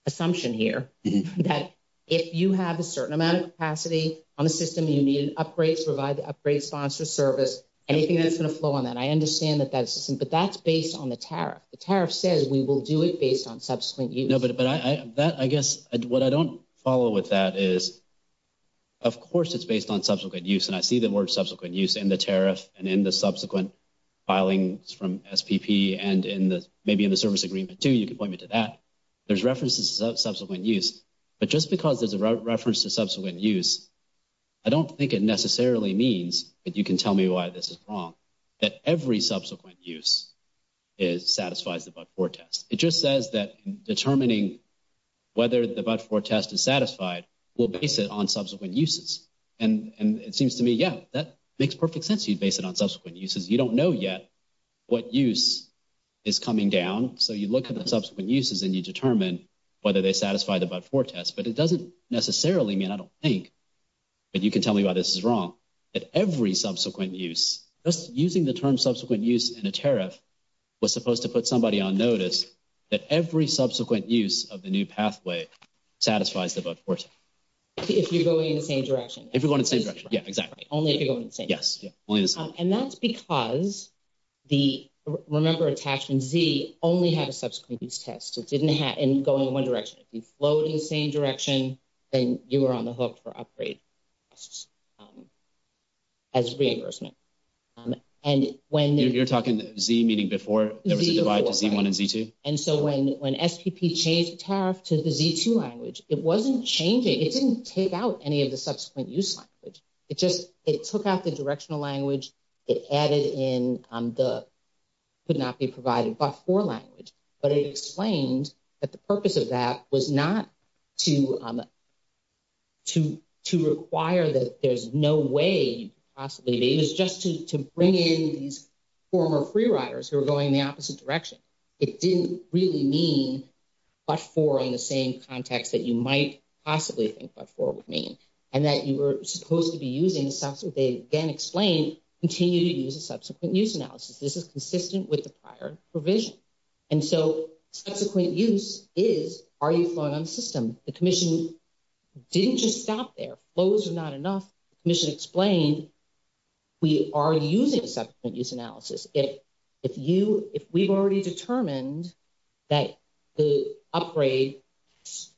assumption here that if you have a certain amount of capacity on the system, you need an upgrade to provide the upgrade sponsor's service, anything that's going to flow on that. I understand that that's the same, but that's based on the tariff. The tariff says we will do it based on subsequent use. No, but I guess what I don't follow with that is, of course, it's based on subsequent use, and I see the word subsequent use in the tariff and in the subsequent filings from SPP and maybe in the service agreement too. You can point me to that. There's references to subsequent use, but just because there's a reference to subsequent use, I don't think it necessarily means that you can tell me why this is wrong, that every subsequent use satisfies the but-for test. It just says that determining whether the but-for test is satisfied will base it on subsequent uses. And it seems to me, yeah, that makes perfect sense. You base it on subsequent uses. You don't know yet what use is coming down, so you look at the subsequent uses and you determine whether they satisfy the but-for test. But it doesn't necessarily mean I don't think that you can tell me why this is wrong, that every subsequent use, just using the term subsequent use in a tariff was supposed to put somebody on notice that every subsequent use of the new pathway satisfies the but-for test. If you're going in the same direction. If you're going in the same direction, yeah, exactly. Only if you're going in the same direction. Yes. And that's because the, remember, attachment Z only had a subsequent use test. So it didn't go in one direction. If you flowed in the same direction, then you were on the hook for upgrade as reimbursement. And when... You're talking Z meaning before everything divides to Z1 and Z2? And so when SPP changed the tariff to the Z2 language, it wasn't changing. It didn't take out any of the subsequent use language. It just, it took out the directional language. It added in the could-not-be-provided but-for language. But it explained that the purpose of that was not to require that there's no way possibly... It was just to bring in these former free riders who were going in the opposite direction. It didn't really mean but-for in the same context that you might possibly think but-for would mean. And that you were supposed to be using a subsequent... They then explained, continue to use a subsequent use analysis. This is consistent with the prior provision. And so subsequent use is are you flowing on systems? The commission didn't just stop there. Flows are not enough. The commission explained we are using subsequent use analysis. If you... If we've already determined that the upgrade...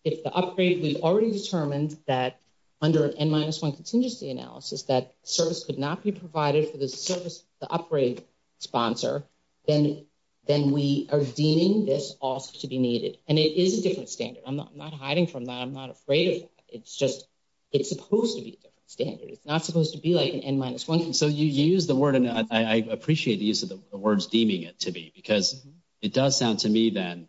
If the upgrade, we've already determined that under an N-1 contingency analysis that service could not be provided for the upgrade sponsor, then we are deeming this also to be needed. And it is a different standard. I'm not hiding from that. I'm not afraid of that. It's just it's supposed to be a different standard. It's not supposed to be like an N-1. So you used the word, and I appreciate the use of the words deeming it to be, because it does sound to me then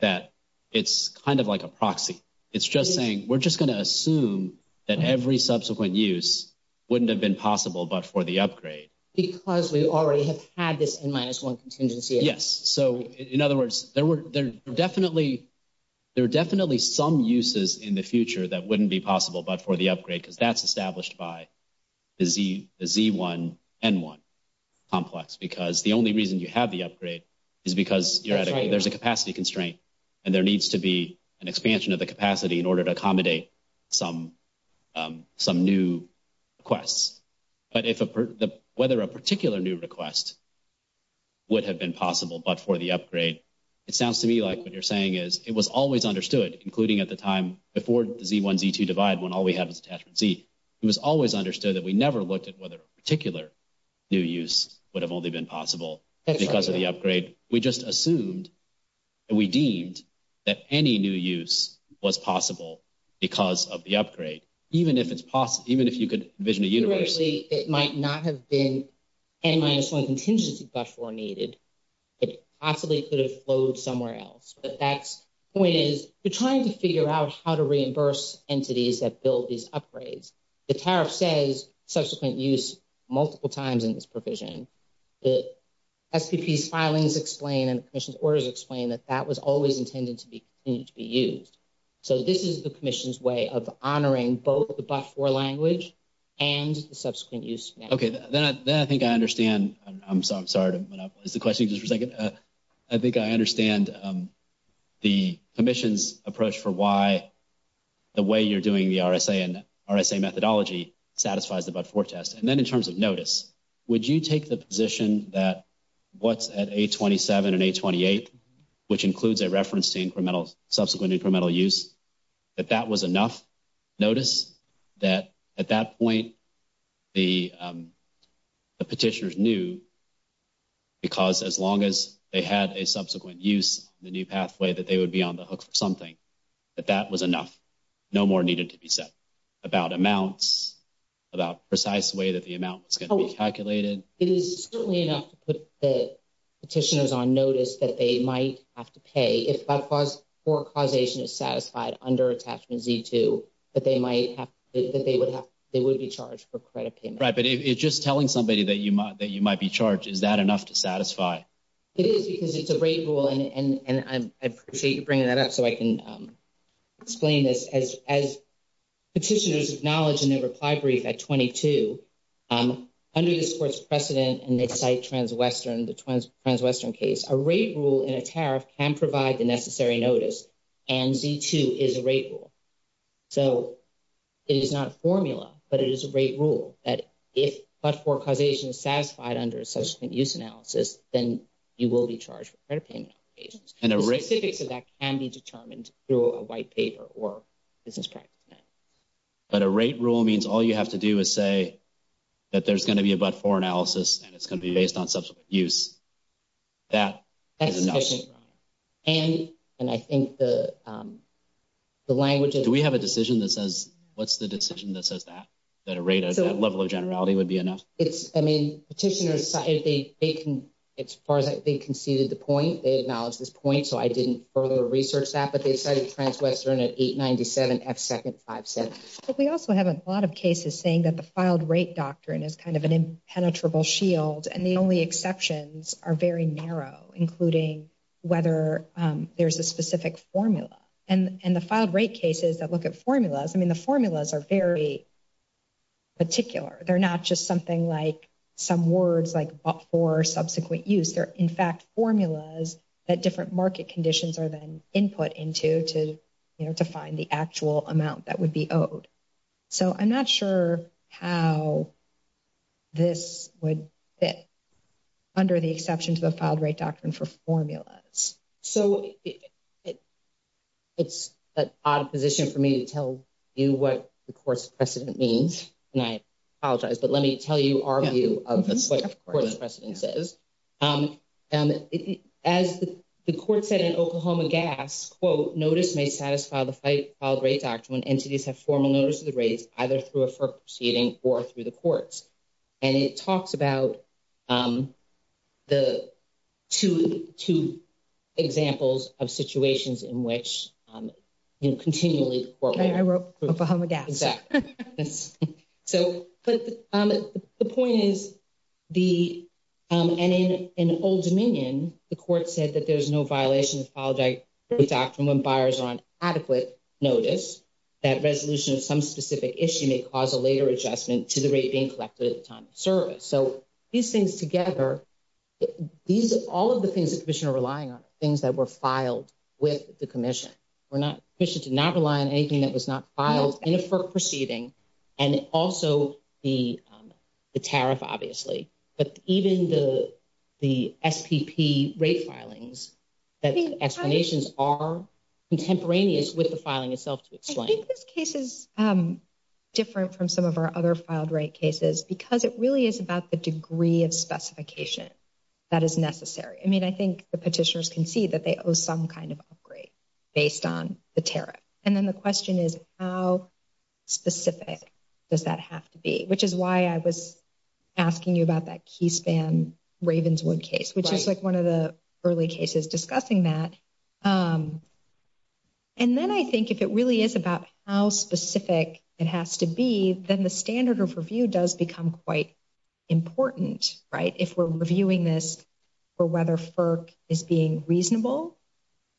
that it's kind of like a proxy. It's just saying we're just going to assume that every subsequent use wouldn't have been possible but for the upgrade. Because we already have had this N-1 contingency. Yes. So, in other words, there are definitely some uses in the future that wouldn't be possible but for the upgrade, because that's established by the Z-1, N-1 complex, because the only reason you have the upgrade is because there's a capacity constraint, and there needs to be an expansion of the capacity in order to accommodate some new requests. But whether a particular new request would have been possible but for the upgrade, it sounds to me like what you're saying is it was always understood, including at the time before the Z-1, Z-2 divide when all we have is attachment Z, it was always understood that we never looked at whether a particular new use would have only been possible because of the upgrade. We just assumed and we deemed that any new use was possible because of the upgrade. Even if it's possible, even if you could envision a universe. Actually, it might not have been N-1 contingency that was needed. It possibly could have flowed somewhere else. But that point is we're trying to figure out how to reimburse entities that build these upgrades. The tariff says subsequent use multiple times in this provision. The FPP's filings explain and the commission's orders explain that that was always intended to be used. So this is the commission's way of honoring both the but-for language and the subsequent use. Okay. Then I think I understand. I'm sorry to interrupt. Is the question just for a second? I think I understand the commission's approach for why the way you're doing the RSA and RSA methodology satisfies the but-for test. And then in terms of notice, would you take the position that what's at 827 and 828, which includes a reference to subsequent incremental use, that that was enough notice that at that point the petitioners knew because as long as they had a subsequent use in the new pathway that they would be on the hook for something, that that was enough, no more needed to be said about amounts, about precise way that the amount was going to be calculated? It is certainly enough to put the petitioners on notice that they might have to pay. If but-for causation is satisfied under attachment D2, that they might have to, that they would be charged for credit payments. Right. But just telling somebody that you might be charged, is that enough to satisfy? It is because it's a rate rule, and I appreciate you bringing that up so I can explain this. As petitioners acknowledge in their reply brief at 22, under this court's precedent in their site trans-Western, the trans-Western case, a rate rule in a tariff can provide the necessary notice, and D2 is a rate rule. So it is not a formula, but it is a rate rule that if but-for causation is satisfied under a subsequent use analysis, then you will be charged for credit payments. And a rate? Specifically, that can be determined through a white paper or business practice. But a rate rule means all you have to do is say that there's going to be a but-for analysis, and it's going to be based on subsequent use. That is enough. And I think the language is… Do we have a decision that says, what's the decision that says that, that a rate, a level of generality would be enough? It's, I mean, petitioners, as far as I think, conceded the point. They acknowledged this point, so I didn't further research that, but they cited trans-Western at 897X2nd 5-6. But we also have a lot of cases saying that the filed rate doctrine is kind of an impenetrable shield, and the only exceptions are very narrow, including whether there's a specific formula. And the filed rate cases that look at formulas, I mean, the formulas are very particular. They're not just something like some words like but-for subsequent use. They're, in fact, formulas that different market conditions are then input into to, you know, define the actual amount that would be owed. So I'm not sure how this would fit under the exceptions of the filed rate doctrine for formulas. So it's an odd position for me to tell you what the court's precedent means, and I apologize, but let me tell you our view of what the court's precedent is. As the court said in Oklahoma Gaps, quote, notice may satisfy the filed rate doctrine when entities have formal notice of the rate either through a court proceeding or through the courts. And it talks about the two examples of situations in which, you know, continually- I wrote Oklahoma Gaps. Exactly. So the point is the-and in Old Dominion, the court said that there's no violation of filed rate doctrine when buyers are on adequate notice, that resolution of some specific issue may cause a later adjustment to the rate being collected at the time of service. So these things together, these are all of the things the commission are relying on, things that were filed with the commission. The commission did not rely on anything that was not filed in a court proceeding, and also the tariff, obviously, but even the SPP rate filings, the explanations are contemporaneous with the filing itself to explain. I think this case is different from some of our other filed rate cases because it really is about the degree of specification that is necessary. I mean, I think the petitioners can see that they owe some kind of upgrade based on the tariff. And then the question is how specific does that have to be, which is why I was asking you about that key spam Ravenswood case, which is like one of the early cases discussing that. And then I think if it really is about how specific it has to be, then the standard of review does become quite important, right, if we're reviewing this for whether FERC is being reasonable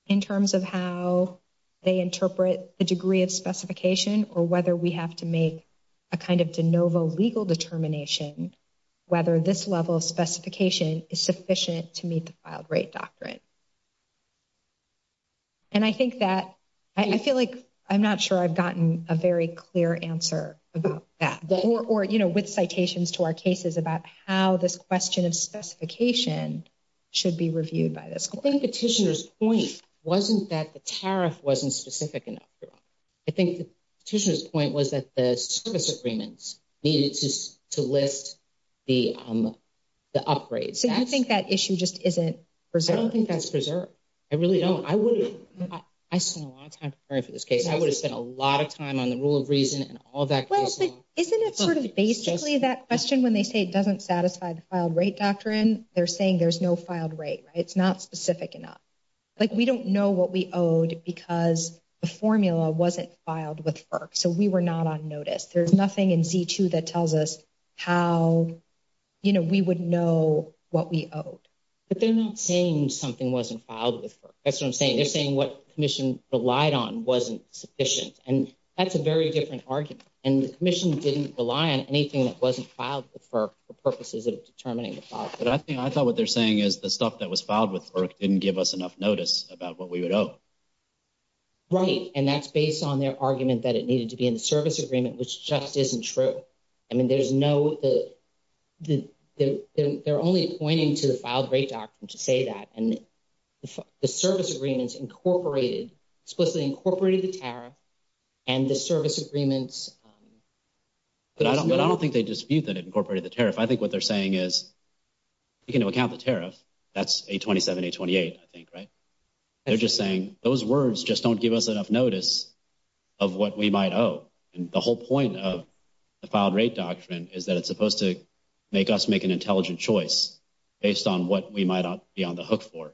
in terms of how they interpret the degree of specification or whether we have to make a kind of de novo legal determination whether this level of specification is sufficient to meet the filed rate doctrine. And I think that I feel like I'm not sure I've gotten a very clear answer about that or, you know, with citations to our cases about how this question of specification should be reviewed by this court. I think the petitioner's point wasn't that the tariff wasn't specific enough. I think the petitioner's point was that the service agreements needed to lift the upgrades. Do you think that issue just isn't preserved? I don't think that's preserved. I really don't. I would have spent a lot of time preparing for this case. I would have spent a lot of time on the rule of reason and all that kind of stuff. Isn't it sort of basically that question when they say it doesn't satisfy the filed rate doctrine? They're saying there's no filed rate, right? It's not specific enough. Like we don't know what we owed because the formula wasn't filed with FERC, so we were not on notice. There's nothing in Z2 that tells us how, you know, we would know what we owed. But they're not saying something wasn't filed with FERC. That's what I'm saying. They're saying what the commission relied on wasn't sufficient, and that's a very different argument. And the commission didn't rely on anything that wasn't filed with FERC for purposes of determining the file. But I thought what they're saying is the stuff that was filed with FERC didn't give us enough notice about what we would owe. Right, and that's based on their argument that it needed to be in the service agreement, which just isn't true. I mean, there's no – they're only pointing to the filed rate doctrine to say that. And the service agreement incorporated – it's supposed to have incorporated the tariff and the service agreement. But I don't think they dispute that it incorporated the tariff. I think what they're saying is, taking into account the tariff, that's 827, 828, I think, right? They're just saying those words just don't give us enough notice of what we might owe. And the whole point of the filed rate doctrine is that it's supposed to make us make an intelligent choice based on what we might be on the hook for.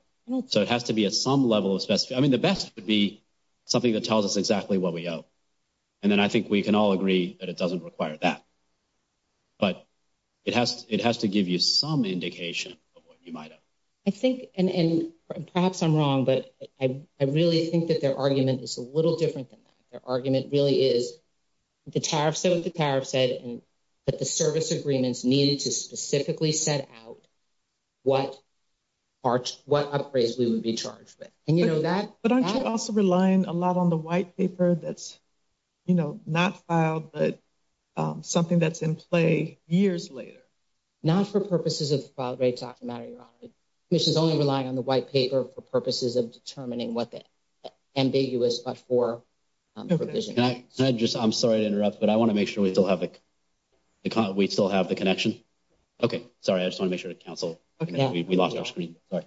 So it has to be at some level of – I mean, the best would be something that tells us exactly what we owe. And then I think we can all agree that it doesn't require that. But it has to give you some indication of what you might owe. I think – and perhaps I'm wrong, but I really think that their argument is a little different than that. Their argument really is the tariff says what the tariff said, and that the service agreements needed to specifically set out what upgrades we would be charged with. And, you know, that – But aren't you also relying a lot on the white paper that's, you know, not filed, but something that's in play years later? Not for purposes of the filed rate doctrine. This is only relying on the white paper for purposes of determining what's ambiguous before the provision. Can I just – I'm sorry to interrupt, but I want to make sure we still have the connection. Okay. Sorry. I just want to make sure to cancel. We lost our screen. Sorry.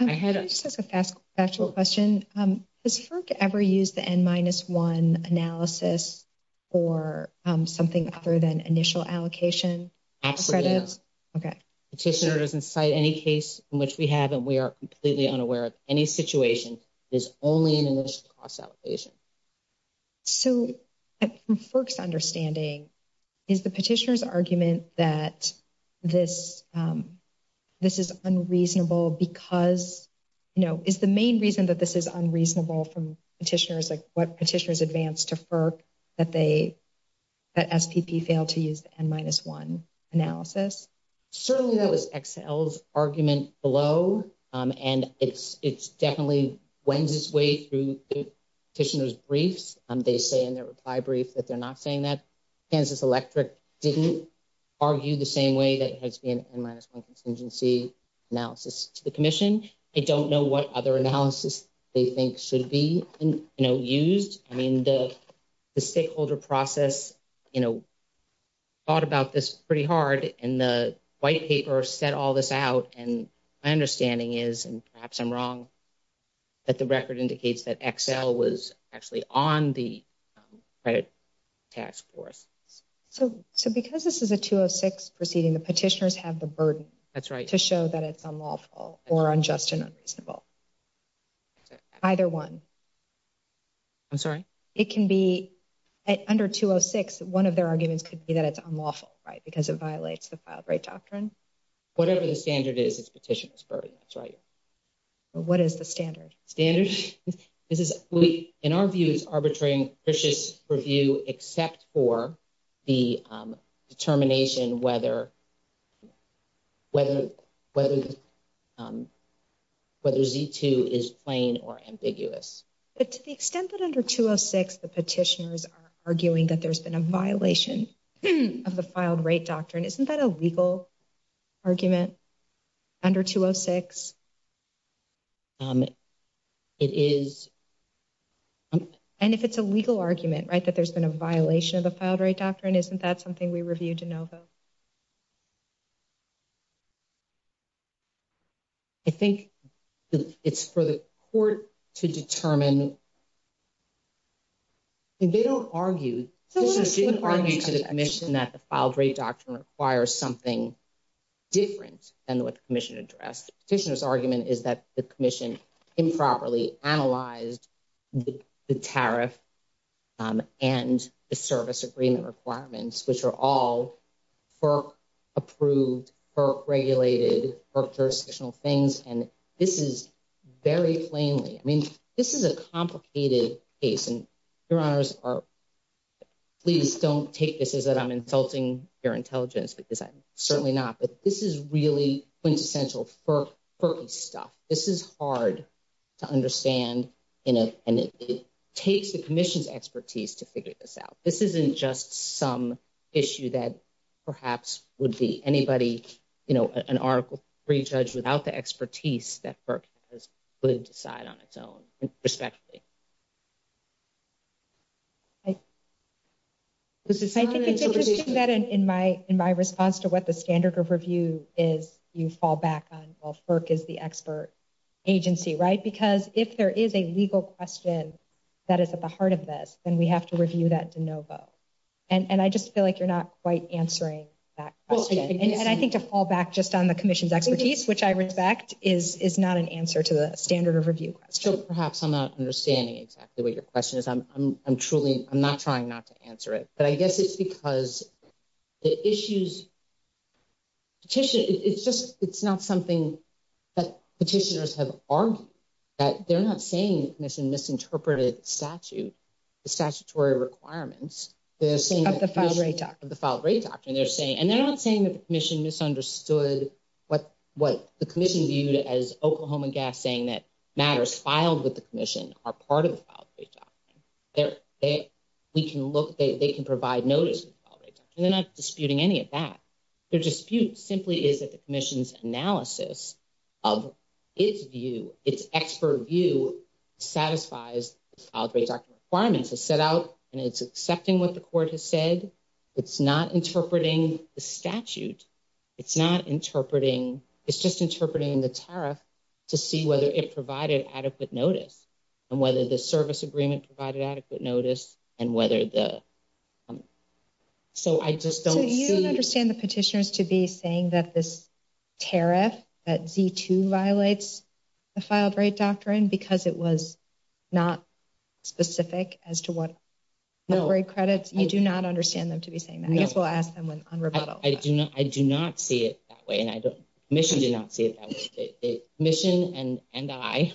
I had a special question. Does FERC ever use the N-1 analysis for something other than initial allocation? Absolutely. Okay. Petitioner doesn't cite any case in which we have and we are completely unaware of any situation that is only in initial cost allocation. So, from FERC's understanding, is the petitioner's argument that this is unreasonable because – you know, is the main reason that this is unreasonable from petitioners, like what petitioners advance to FERC, that they – that SPP failed to use the N-1 analysis? Certainly that was Excel's argument below, and it's definitely went its way through petitioner's briefs. They say in their reply brief that they're not saying that. Kansas Electric didn't argue the same way that it has in N-1 contingency analysis to the commission. They don't know what other analysis they think should be, you know, used. I mean, the stakeholder process, you know, thought about this pretty hard, and the white paper set all this out. And my understanding is, and perhaps I'm wrong, that the record indicates that Excel was actually on the credit task force. So, because this is a 206 proceeding, the petitioners have the burden to show that it's unlawful or unjust and unreasonable. Either one. I'm sorry? It can be – under 206, one of their arguments could be that it's unlawful, right, because it violates the filed rate doctrine. Whatever the standard is, it's petitioner's burden. That's right. What is the standard? Standard? In our view, it's arbitrary and fictitious review except for the determination whether Z-2 is plain or ambiguous. But to the extent that under 206 the petitioners are arguing that there's been a violation of the filed rate doctrine, isn't that a legal argument under 206? It is. And if it's a legal argument, right, that there's been a violation of the filed rate doctrine, isn't that something we review to know, though? I think it's for the court to determine. They don't argue – petitioners didn't argue to the commission that the filed rate doctrine requires something different than what the commission addressed. The petitioner's argument is that the commission improperly analyzed the tariff and the service agreement requirements, which are all FERC-approved, FERC-regulated, FERC jurisdictional things. And this is very plainly – I mean, this is a complicated case. And, Your Honors, please don't take this as that I'm insulting your intelligence, because I'm certainly not. But this is really quintessential FERC stuff. This is hard to understand, and it takes the commission's expertise to figure this out. This isn't just some issue that perhaps would be anybody – you know, an Article III judge without the expertise that FERC has put aside on its own. Respectfully. I think it's interesting that in my response to what the standard of review is, you fall back on, well, FERC is the expert agency, right? Because if there is a legal question that is at the heart of this, then we have to review that de novo. And I just feel like you're not quite answering that question. And I think to fall back just on the commission's expertise, which I respect, is not an answer to a standard of review question. So perhaps I'm not understanding exactly what your question is. I'm truly – I'm not trying not to answer it. But I guess it's because the issues – it's just – it's not something that petitioners have argued. They're not saying the commission misinterpreted statute, the statutory requirements. They're saying – Of the filed rate doctrine. Of the filed rate doctrine. And they're saying – and they're not saying that the commission misunderstood what the commission viewed as Oklahoma Gas saying that matters filed with the commission are part of the filed rate doctrine. We can look – they can provide notice of the filed rate doctrine. They're not disputing any of that. Their dispute simply is that the commission's analysis of its view, its expert view, satisfies the filed rate doctrine requirements. It's set out and it's accepting what the court has said. It's not interpreting the statute. It's not interpreting – it's just interpreting the tariff to see whether it provided adequate notice. And whether the service agreement provided adequate notice. And whether the – so I just don't see – You don't understand the petitioners to be saying that this tariff, that Z2 violates the filed rate doctrine because it was not specific as to what rate credits. You do not understand them to be saying that. I guess we'll ask them on rebuttal. I do not see it that way. And I don't – the commission did not see it that way. The commission and I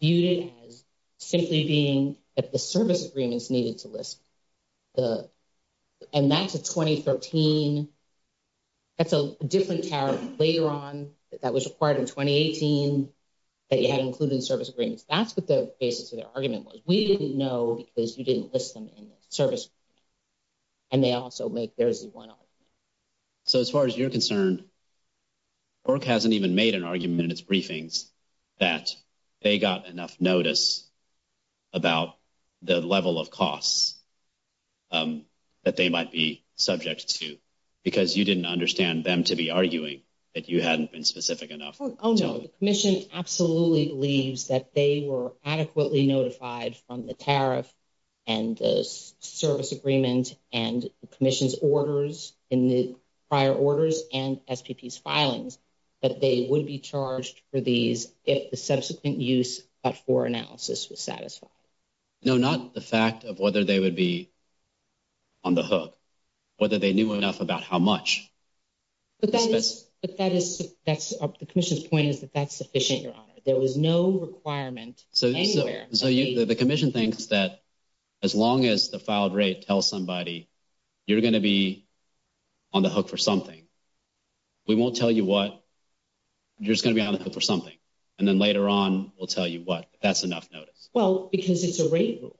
viewed it as simply being that the service agreements needed to list the – and that's a 2013 – that's a different tariff later on. That was required in 2018 that you had to include the service agreements. That's what the basis of the argument was. We didn't know because you didn't list them in the service agreement. And they also make their Z1 argument. So as far as you're concerned, ORC hasn't even made an argument in its briefings that they got enough notice about the level of costs that they might be subject to. Because you didn't understand them to be arguing if you hadn't been specific enough. Oh, no. The commission absolutely believes that they were adequately notified from the tariff and the service agreement and the commission's orders in the prior orders and STP's filings that they would be charged for these if the subsequent use of OR analysis was satisfied. No, not the fact of whether they would be on the hook. Whether they knew enough about how much. But that is – the commission's point is that that's sufficient, Your Honor. There was no requirement anywhere. So the commission thinks that as long as the filed rate tells somebody you're going to be on the hook for something, we won't tell you what. You're just going to be on the hook for something. And then later on we'll tell you what. That's enough notice. Well, because it's a rate rule.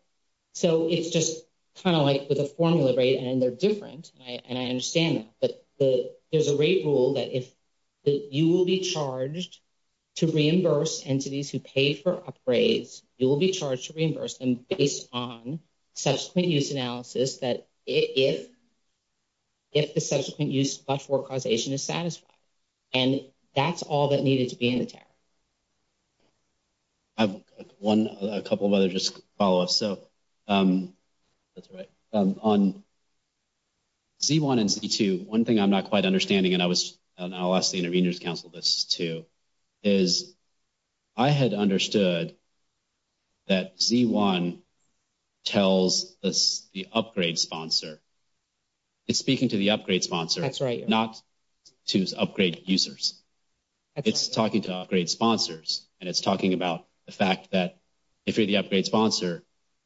So it's just kind of like with a formula rate and they're different. And I understand that. But there's a rate rule that you will be charged to reimburse entities who paid for upgrades. You will be charged to reimburse them based on subsequent use analysis that if the subsequent use of OR causation is satisfied. And that's all that needed to be in the tariff. I have one – a couple of others just to follow up. That's right. On Z1 and Z2, one thing I'm not quite understanding, and I'll ask the Intervenors Council this too, is I had understood that Z1 tells the upgrade sponsor. It's speaking to the upgrade sponsor. That's right. Not to upgrade users. It's talking to upgrade sponsors. And it's talking about the fact that if you're the upgrade sponsor,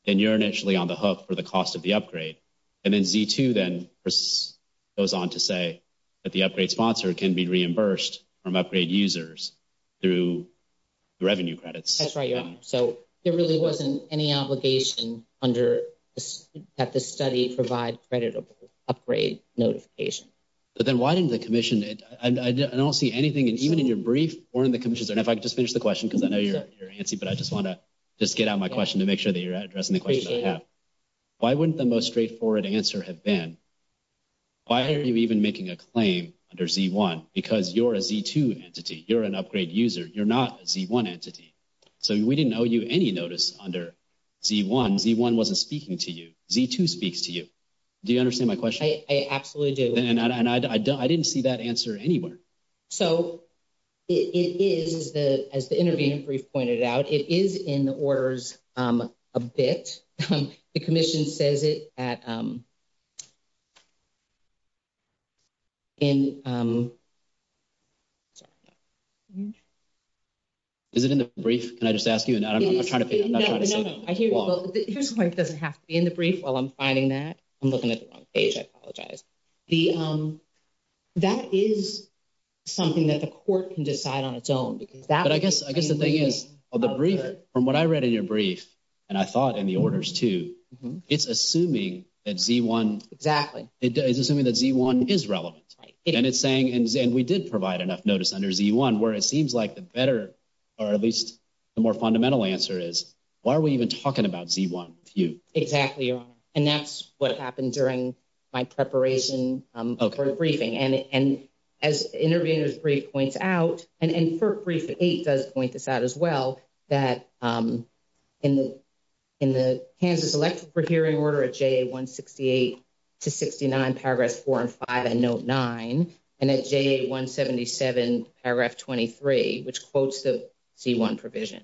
then you're initially on the hook for the cost of the upgrade. And then Z2 then goes on to say that the upgrade sponsor can be reimbursed from upgrade users through revenue credits. That's right. So there really wasn't any obligation under – that the study provide creditable upgrade notification. But then why didn't the commission – and I don't see anything, and even in your brief, or in the commission's – and if I could just finish the question, because I know you're antsy, but I just want to just get out my question to make sure that you're addressing the question I have. Why wouldn't the most straightforward answer have been, why are you even making a claim under Z1? Because you're a Z2 entity. You're an upgrade user. You're not a Z1 entity. So we didn't owe you any notice under Z1. Z1 wasn't speaking to you. Z2 speaks to you. Do you understand my question? I absolutely do. And I didn't see that answer anywhere. So it is, as the intervening brief pointed out, it is in the orders a bit. The commission says it at – in – sorry. Is it in the brief? Can I just ask you? And I'm trying to pick – No, no, no. I hear you. It doesn't have to be in the brief while I'm finding that. I'm looking at the wrong page. I apologize. That is something that the court can decide on its own. But I guess the thing is, from what I read in your brief, and I saw it in the orders too, it's assuming that Z1 – Exactly. It's assuming that Z1 is relevant. And it's saying – and we did provide enough notice under Z1 where it seems like the better, or at least the more fundamental answer is, why are we even talking about Z1 with you? Exactly. And that's what happened during my preparation for the briefing. Okay. And as the intervening brief points out, and FERC Brief 8 does point this out as well, that in the Kansas Elected Court Hearing Order at JA168-69, paragraphs 4 and 5, and note 9, and at JA177, paragraph 23, which quotes the Z1 provision,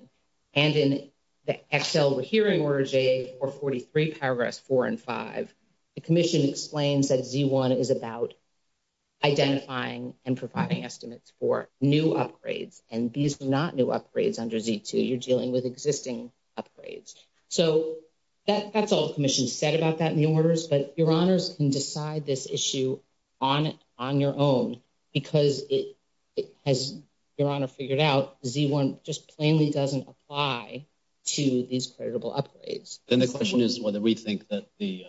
and in the Excel Hearing Order, JA443, paragraphs 4 and 5, the commission explains that Z1 is about identifying and providing estimates for new upgrades. And these are not new upgrades under Z2. You're dealing with existing upgrades. So that's all the commission said about that new order, is that your honors can decide this issue on their own because, as your honor figured out, Z1 just plainly doesn't apply to these credible upgrades. And the question is whether we think that the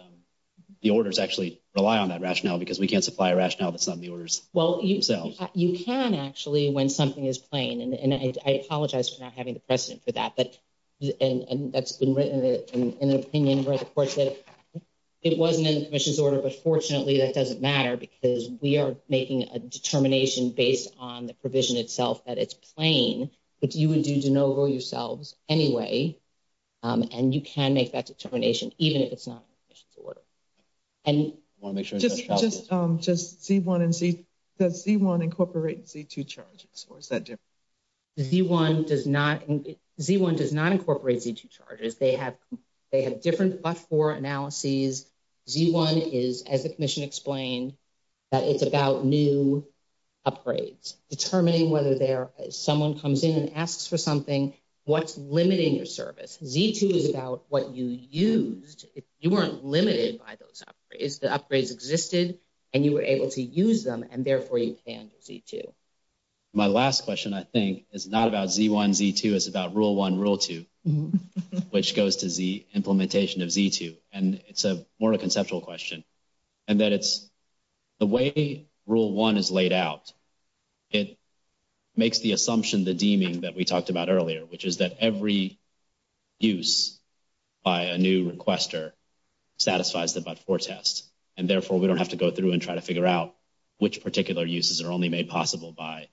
orders actually rely on that rationale because we can't supply a rationale that's not in the orders. Well, you can actually when something is plain. And I apologize for not having the precedent for that. And that's been written in an opinion where the court said it wasn't in the commission's order. But fortunately, that doesn't matter because we are making a determination based on the provision itself that it's plain, but you would do de novo yourselves anyway. And you can make that determination even if it's not in the commission's order. Just Z1 and Z2. Does Z1 incorporate Z2 charges? Z1 does not. Z1 does not incorporate Z2 charges. They have different but-for analyses. Z1 is, as the commission explained, it's about new upgrades. Determining whether someone comes in and asks for something, what's limiting your service? Z2 is about what you used. You weren't limited by those upgrades. The upgrades existed, and you were able to use them, and therefore you can use Z2. My last question, I think, is not about Z1, Z2. It's about Rule 1, Rule 2, which goes to the implementation of Z2. And it's more of a conceptual question. And that it's the way Rule 1 is laid out, it makes the assumption, the deeming that we talked about earlier, which is that every use by a new requester satisfies the but-for test. And therefore, we don't have to go through and try to figure out which particular uses are only made possible by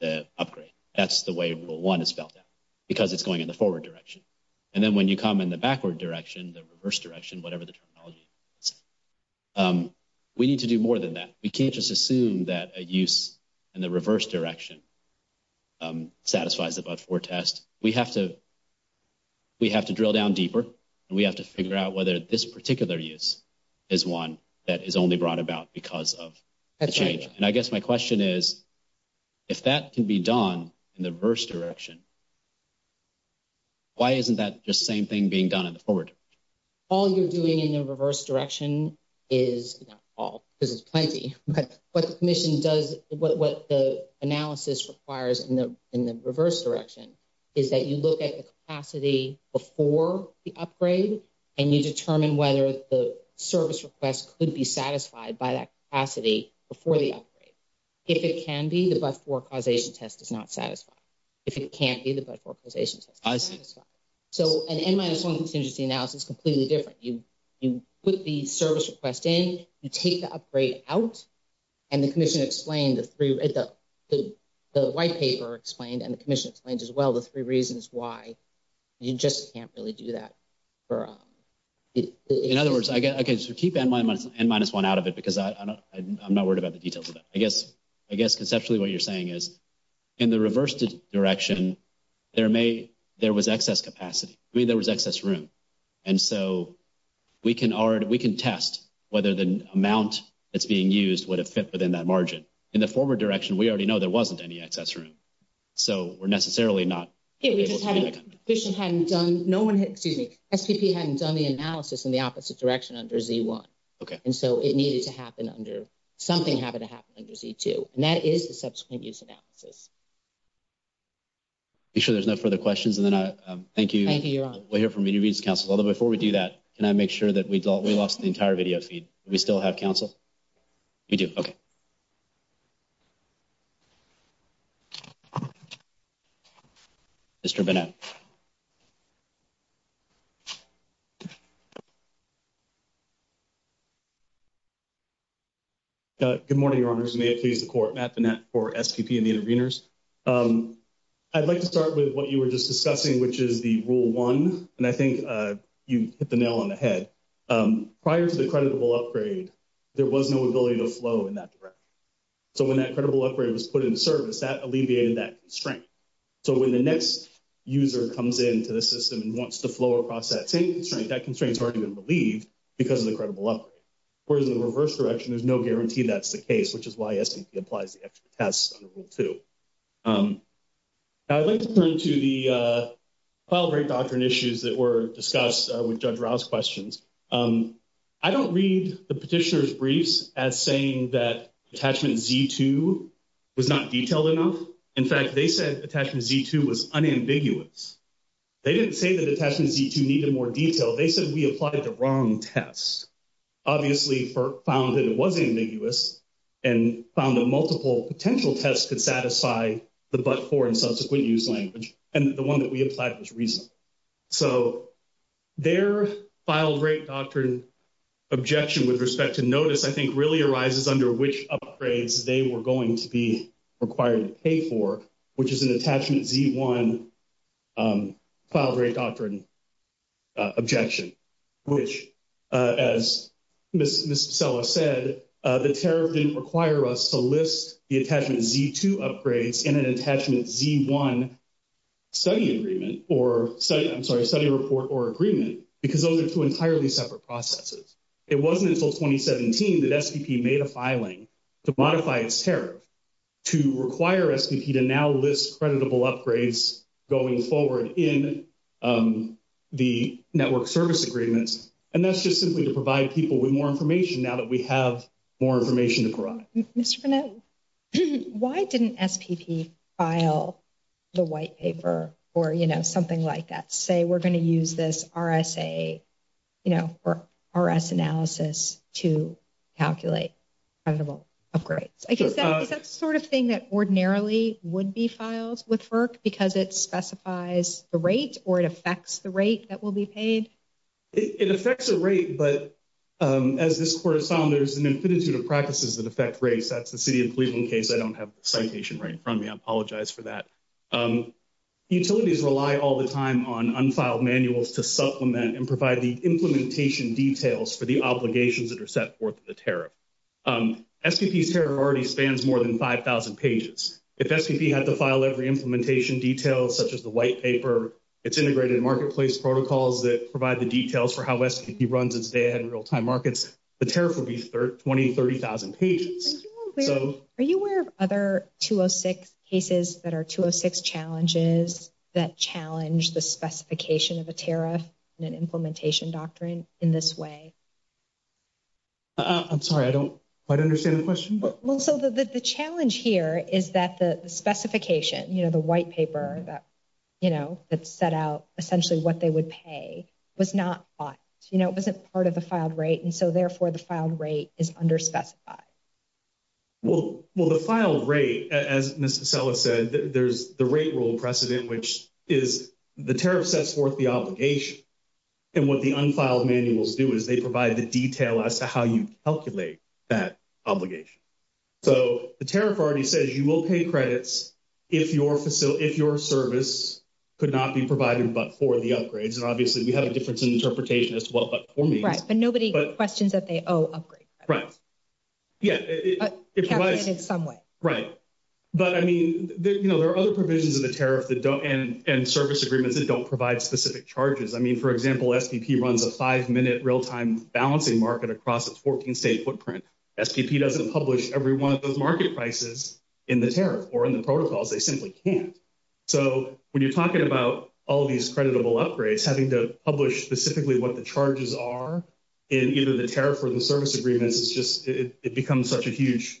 the upgrade. That's the way Rule 1 is spelled out because it's going in the forward direction. And then when you come in the backward direction, the reverse direction, whatever the terminology is, we need to do more than that. We can't just assume that a use in the reverse direction satisfies the but-for test. We have to drill down deeper, and we have to figure out whether this particular use is one that is only brought about because of the change. And I guess my question is, if that can be done in the reverse direction, why isn't that just the same thing being done in the forward direction? All you're doing in the reverse direction is not all because it's plenty. What the commission does, what the analysis requires in the reverse direction is that you look at the capacity before the upgrade, and you determine whether the service request could be satisfied by that capacity before the upgrade. If it can be, the but-for causation test is not satisfied. If it can't be, the but-for causation test is not satisfied. So an N-1 contingency analysis is completely different. You put the service request in, you take the upgrade out, and the white paper explained and the commission explained as well the three reasons why you just can't really do that. In other words, I guess you keep N-1 out of it because I'm not worried about the details of it. I guess conceptually what you're saying is, in the reverse direction, there was excess capacity. I mean, there was excess room. And so we can test whether the amount that's being used would have fit within that margin. In the forward direction, we already know there wasn't any excess room. So we're necessarily not able to do that. No one, excuse me, SPP hadn't done the analysis in the opposite direction under Z-1. Okay. And so it needed to happen under, something happened to happen under Z-2. And that is the subsequent use analysis. I'm sure there's no further questions. And then I thank you. Thank you. Although before we do that, can I make sure that we lost the entire video feed? Do we still have counsel? We do. Okay. Mr. Bennett. Good morning, Your Honors. May it please the Court, Matt Bennett for SQP and the Interveners. I'd like to start with what you were just discussing, which is the Rule 1. And I think you hit the nail on the head. Prior to the credible upgrade, there was no ability to flow in that direction. So when that credible upgrade was put into service, that alleviated that constraint. So when the next user comes into the system and wants to flow across that same constraint, that constraint's already been relieved because of the credible upgrade. Whereas in the reverse direction, there's no guarantee that's the case, which is why SQP applies the extra tests under Rule 2. I'd like to turn to the file break doctrine issues that were discussed with Judge Rouse's questions. I don't read the petitioner's briefs as saying that attachment Z-2 was not detailed enough. In fact, they said attachment Z-2 was unambiguous. They didn't say that attachment Z-2 needed more detail. They said we applied the wrong test. Obviously, we found that it wasn't ambiguous and found that multiple potential tests could satisfy the but-for and subsequent use language. And the one that we applied was reasonable. So their file break doctrine objection with respect to notice, I think, really arises under which upgrades they were going to be required to pay for, which is an attachment Z-1 file break doctrine objection, which, as Ms. Sella said, the tariff didn't require us to list the attachment Z-2 upgrades in an attachment Z-1 study agreement or study report or agreement because those are two entirely separate processes. It wasn't until 2017 that SQP made a filing to modify its tariff to require SQP to now list creditable upgrades going forward in the network service agreements. And that's just simply to provide people with more information now that we have more information to provide. Ms. Chernow, why didn't SQP file the white paper or, you know, something like that? Say we're going to use this RSA, you know, or RS analysis to calculate credible upgrades. Is that the sort of thing that ordinarily would be filed with FERC because it specifies the rate or it affects the rate that will be paid? It affects the rate, but as this court has found, there's an infinity of practices that affect rates. That's the city of Cleveland case. I don't have the citation right in front of me. I apologize for that. Utilities rely all the time on unfiled manuals to supplement and provide the implementation details for the obligations that are set forth in the tariff. SQP's tariff already spans more than 5,000 pages. If SQP had to file every implementation detail, such as the white paper, its integrated marketplace protocols that provide the details for how SQP runs its data in real-time markets, the tariff would be 20,000, 30,000 pages. Are you aware of other 206 cases that are 206 challenges that challenge the specification of a tariff and an implementation doctrine in this way? I'm sorry. I don't quite understand the question. So the challenge here is that the specification, you know, the white paper that, you know, that set out essentially what they would pay was not, you know, it wasn't part of the filed rate. And so, therefore, the filed rate is underspecified. Well, the filed rate, as Ms. Pacella said, there's the rate rule precedent, which is the tariff sets forth the obligation. And what the unfiled manuals do is they provide the detail as to how you calculate that obligation. So the tariff already says you will pay credits if your service could not be provided but for the upgrades. And, obviously, we have a difference in interpretation as well, but for me. Right. But nobody questions that they owe upgrades. Right. Yeah. But calculated some way. Right. But, I mean, you know, there are other provisions of the tariff and service agreements that don't provide specific charges. I mean, for example, SDP runs a five-minute real-time balancing market across its 14-state footprint. SDP doesn't publish every one of those market prices in the tariff or in the protocols. They simply can't. So when you're talking about all these creditable upgrades, having to publish specifically what the charges are in either the tariff or the service agreements, it's just it becomes such a huge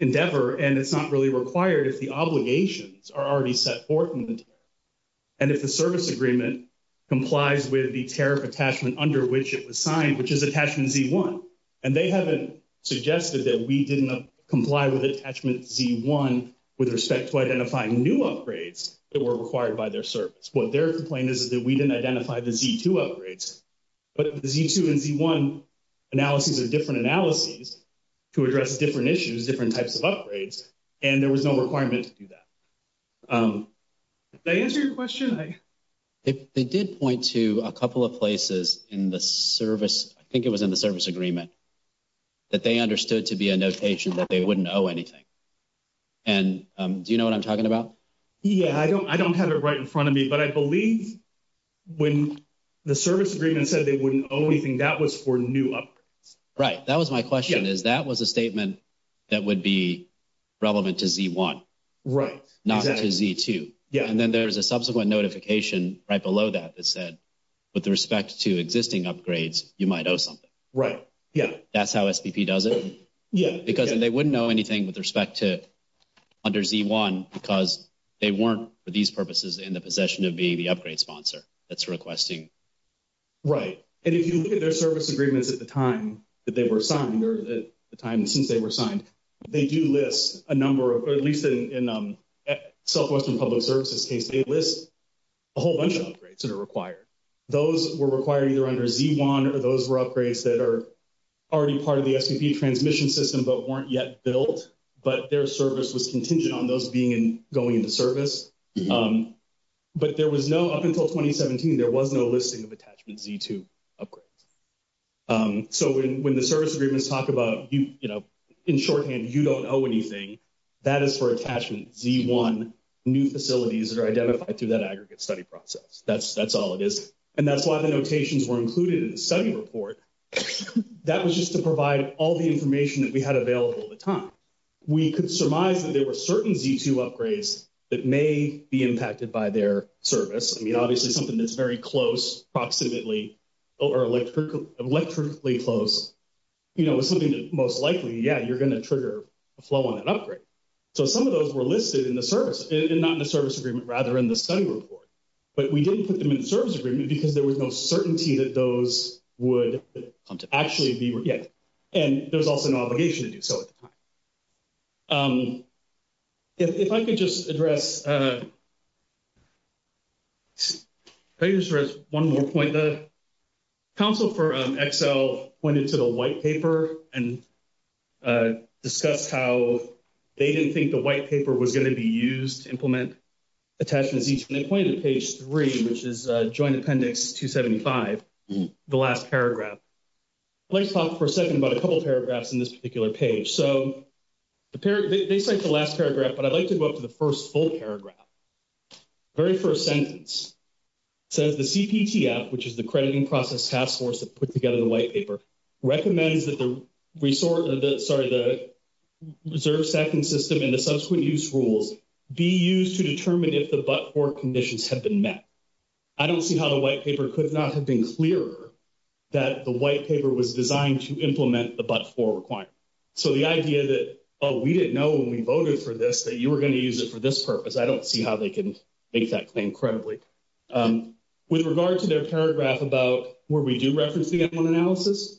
endeavor and it's not really required if the obligations are already set forth. And if the service agreement complies with the tariff attachment under which it was signed, which is attachment Z1, and they haven't suggested that we didn't comply with attachment Z1 with respect to identifying new upgrades that were required by their service. What their complaint is that we didn't identify the Z2 upgrades. But the Z2 and Z1 analyses are different analyses to address different issues, different types of upgrades, and there was no requirement to do that. Did that answer your question? It did point to a couple of places in the service. I think it was in the service agreement that they understood to be a notation that they wouldn't owe anything. And do you know what I'm talking about? Yeah. I don't have it right in front of me, but I believe when the service agreement said they wouldn't owe anything, that was for new upgrades. Right. That was my question is that was a statement that would be relevant to Z1. Right. Not to Z2. Yeah. And then there's a subsequent notification right below that that said, with respect to existing upgrades, you might owe something. Right. Yeah. That's how SPP does it? Yeah. Because then they wouldn't owe anything with respect to under Z1 because they weren't, for these purposes, in the possession of being the upgrade sponsor that's requesting. Right. And if you look at their service agreements at the time that they were signed or at the time since they were signed, they do list a number of, at least in Southwestern Public Services case, they list a whole bunch of upgrades that are required. Those were required either under Z1 or those were upgrades that are already part of the S&P transmission system but weren't yet built, but their service was contingent on those being and going into service. But there was no, up until 2017, there wasn't a listing of attachment Z2 upgrades. So, when the service agreements talk about, you know, in shorthand, you don't owe anything, that is for attachment Z1 new facilities that are identified through that aggregate study process. That's all it is. And that's why the notations were included in the study report. That was just to provide all the information that we had available at the time. We could surmise that there were certain Z2 upgrades that may be impacted by their service. I mean, obviously, something that's very close, approximately, or electrically close, you know, is something that most likely, yeah, you're going to trigger a flow on an upgrade. So, some of those were listed in the service, not in the service agreement, rather in the study report. But we didn't put them in the service agreement because there was no certainty that those would actually be, yeah, and there's also no obligation to do so at the time. If I could just address, if I could just address one more point. The Council for Excel pointed to the white paper and discussed how they didn't think the white paper was going to be used to implement attachments Z2. And they pointed to page 3, which is Joint Appendix 275, the last paragraph. I'd like to talk for a second about a couple paragraphs in this particular page. So, they cite the last paragraph, but I'd like to go up to the first full paragraph. The very first sentence says, the CPTF, which is the Crediting Process Task Force that put together the white paper, recommends that the reserve second system and the subsequent use rules be used to determine if the but-for conditions have been met. I don't see how the white paper could not have been clearer that the white paper was designed to implement the but-for requirement. So, the idea that, oh, we didn't know when we voted for this that you were going to use it for this purpose. I don't see how they can make that claim credibly. With regard to their paragraph about where we do reference the M1 analysis,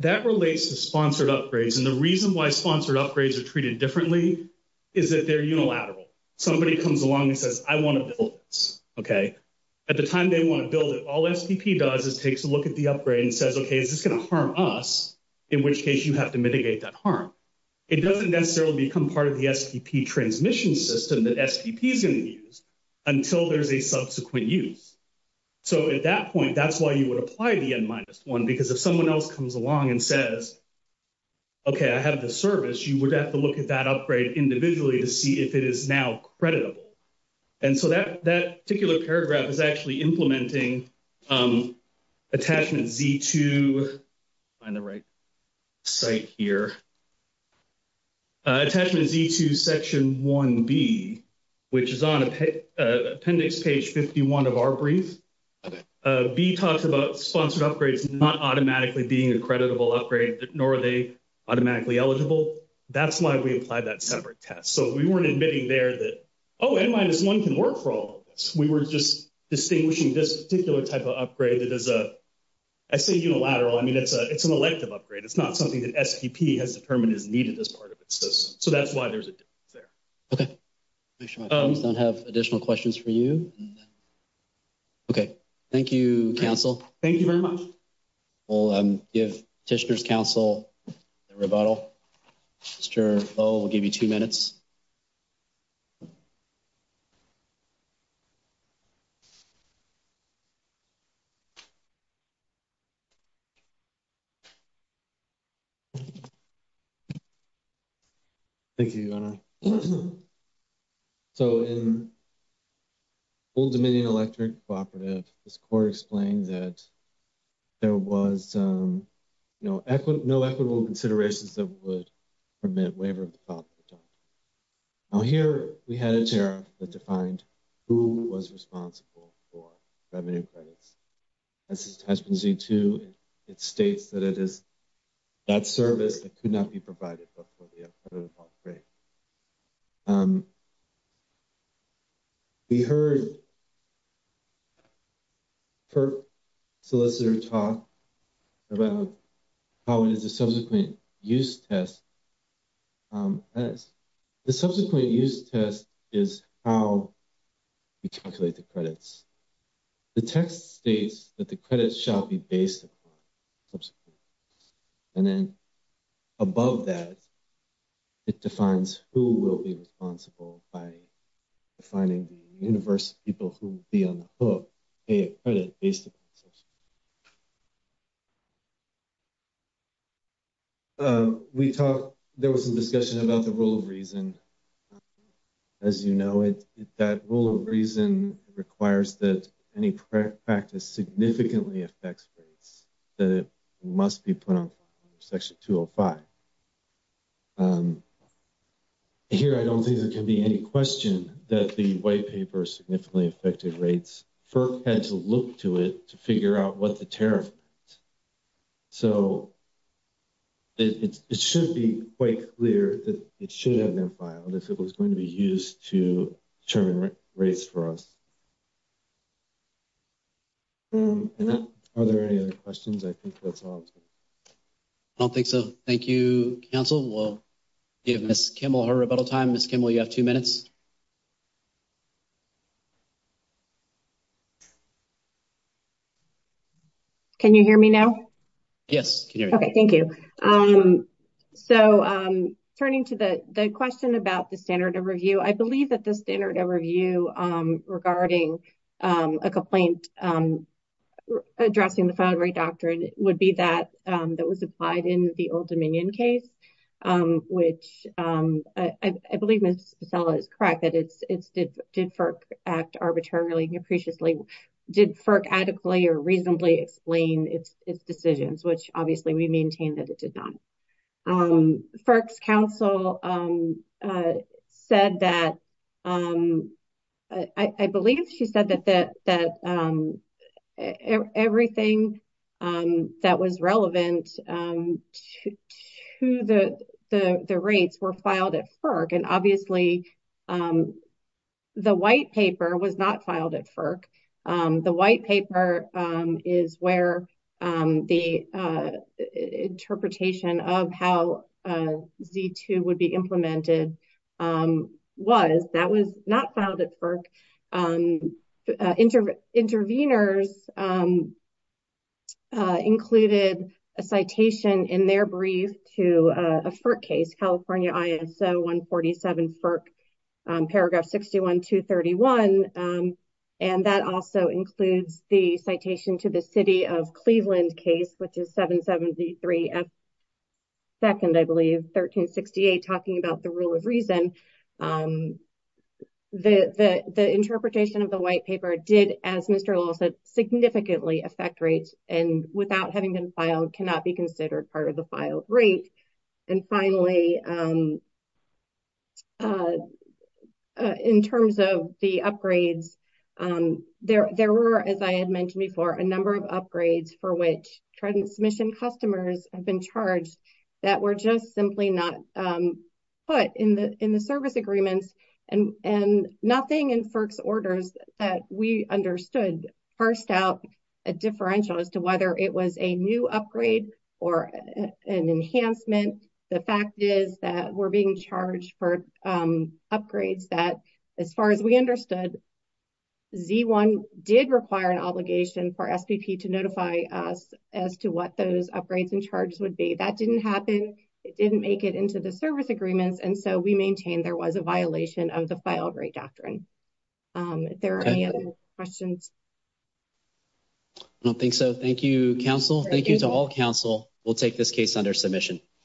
that relates to sponsored upgrades. And the reason why sponsored upgrades are treated differently is that they're unilateral. Somebody comes along and says, I want to build this, okay? At the time they want to build it, all SPP does is takes a look at the upgrade and says, okay, is this going to harm us, in which case you have to mitigate that harm. It doesn't necessarily become part of the SPP transmission system that SPP is going to use until there's a subsequent use. So, at that point, that's why you would apply the N-1, because if someone else comes along and says, okay, I have this service, you would have to look at that upgrade individually to see if it is now creditable. And so that particular paragraph is actually implementing attachment Z2 on the right side here, attachment Z2 section 1B, which is on appendix page 51 of our brief. B talks about sponsored upgrades not automatically being a creditable upgrade, nor are they automatically eligible. That's why we applied that separate test. So we weren't admitting there that, oh, N-1 can work for all of us. We were just distinguishing this particular type of upgrade that is a, I say unilateral, I mean, it's an elective upgrade. It's not something that SPP has determined is needed as part of its system. So that's why there's a difference there. Okay. I have additional questions for you. Okay. Thank you, counsel. Thank you very much. We'll give petitioner's counsel a rebuttal. Mr. Lowe, we'll give you two minutes. Thank you, Donna. So in Old Dominion Electric cooperative, this court explained that there was, you know, no equitable considerations that would permit waiver of the software. Now, here we had a chair that defined who was responsible for that main credit. This is testimony Z-2. It states that it is that service that could not be provided for the upgrade. We heard her solicitor talk about how it is a subsequent use test. The subsequent use test is how we calculate the credits. The test states that the credits shall be based upon subsequent use. And then above that, it defines who will be responsible by defining the universe of people who will be on the hook, pay a credit based upon subsequent use. We talked, there was a discussion about the rule of reason. As you know, that rule of reason requires that any practice significantly affects rates that must be put on section 205. Here, I don't think there can be any question that the white paper significantly affected rates. FERC has to look to it to figure out what the tariff is. So, it should be quite clear that it should have been fine unless it was going to be used to determine rates for us. Are there any other questions? I don't think so. Thank you, counsel. We'll give Ms. Kimmel her rebuttal time. Ms. Kimmel, you have two minutes. Can you hear me now? Yes. Okay. Thank you. So, turning to the question about the standard of review, I believe that the standard of review regarding a complaint addressing the file rate doctrine would be that that was applied in the Old Dominion case, which I believe Ms. Crackett, did FERC act arbitrarily and appreciately? Did FERC adequately or reasonably explain its decisions, which obviously we maintain that it did not? FERC's counsel said that, I believe she said that everything that was relevant to the rates were filed at FERC. Obviously, the white paper was not filed at FERC. The white paper is where the interpretation of how V-2 would be implemented was. That was not filed at FERC. Intervenors included a citation in their brief to a FERC case, California ISO 147 FERC, paragraph 61-231, and that also includes the citation to the city of Cleveland case, which is 770-3S2, I believe, 1368, talking about the rule of reason. The interpretation of the white paper did, as Mr. Lillis said, significantly affect rates and, without having been filed, cannot be considered part of the filed rate. Finally, in terms of the upgrades, there were, as I had mentioned before, a number of upgrades for which transmission customers have been charged that were just simply not put in the service agreement. Nothing in FERC's orders that we understood parsed out a differential as to whether it was a new upgrade or an enhancement. The fact is that we're being charged for upgrades that, as far as we understood, V-1 did require an obligation for FCP to notify us as to what those upgrades in charge would be. That didn't happen. It didn't make it into the service agreement, and so we maintain there was a violation of the filed rate doctrine. If there are any other questions. I don't think so. Thank you, counsel. Thank you to all counsel. We'll take this case under submission.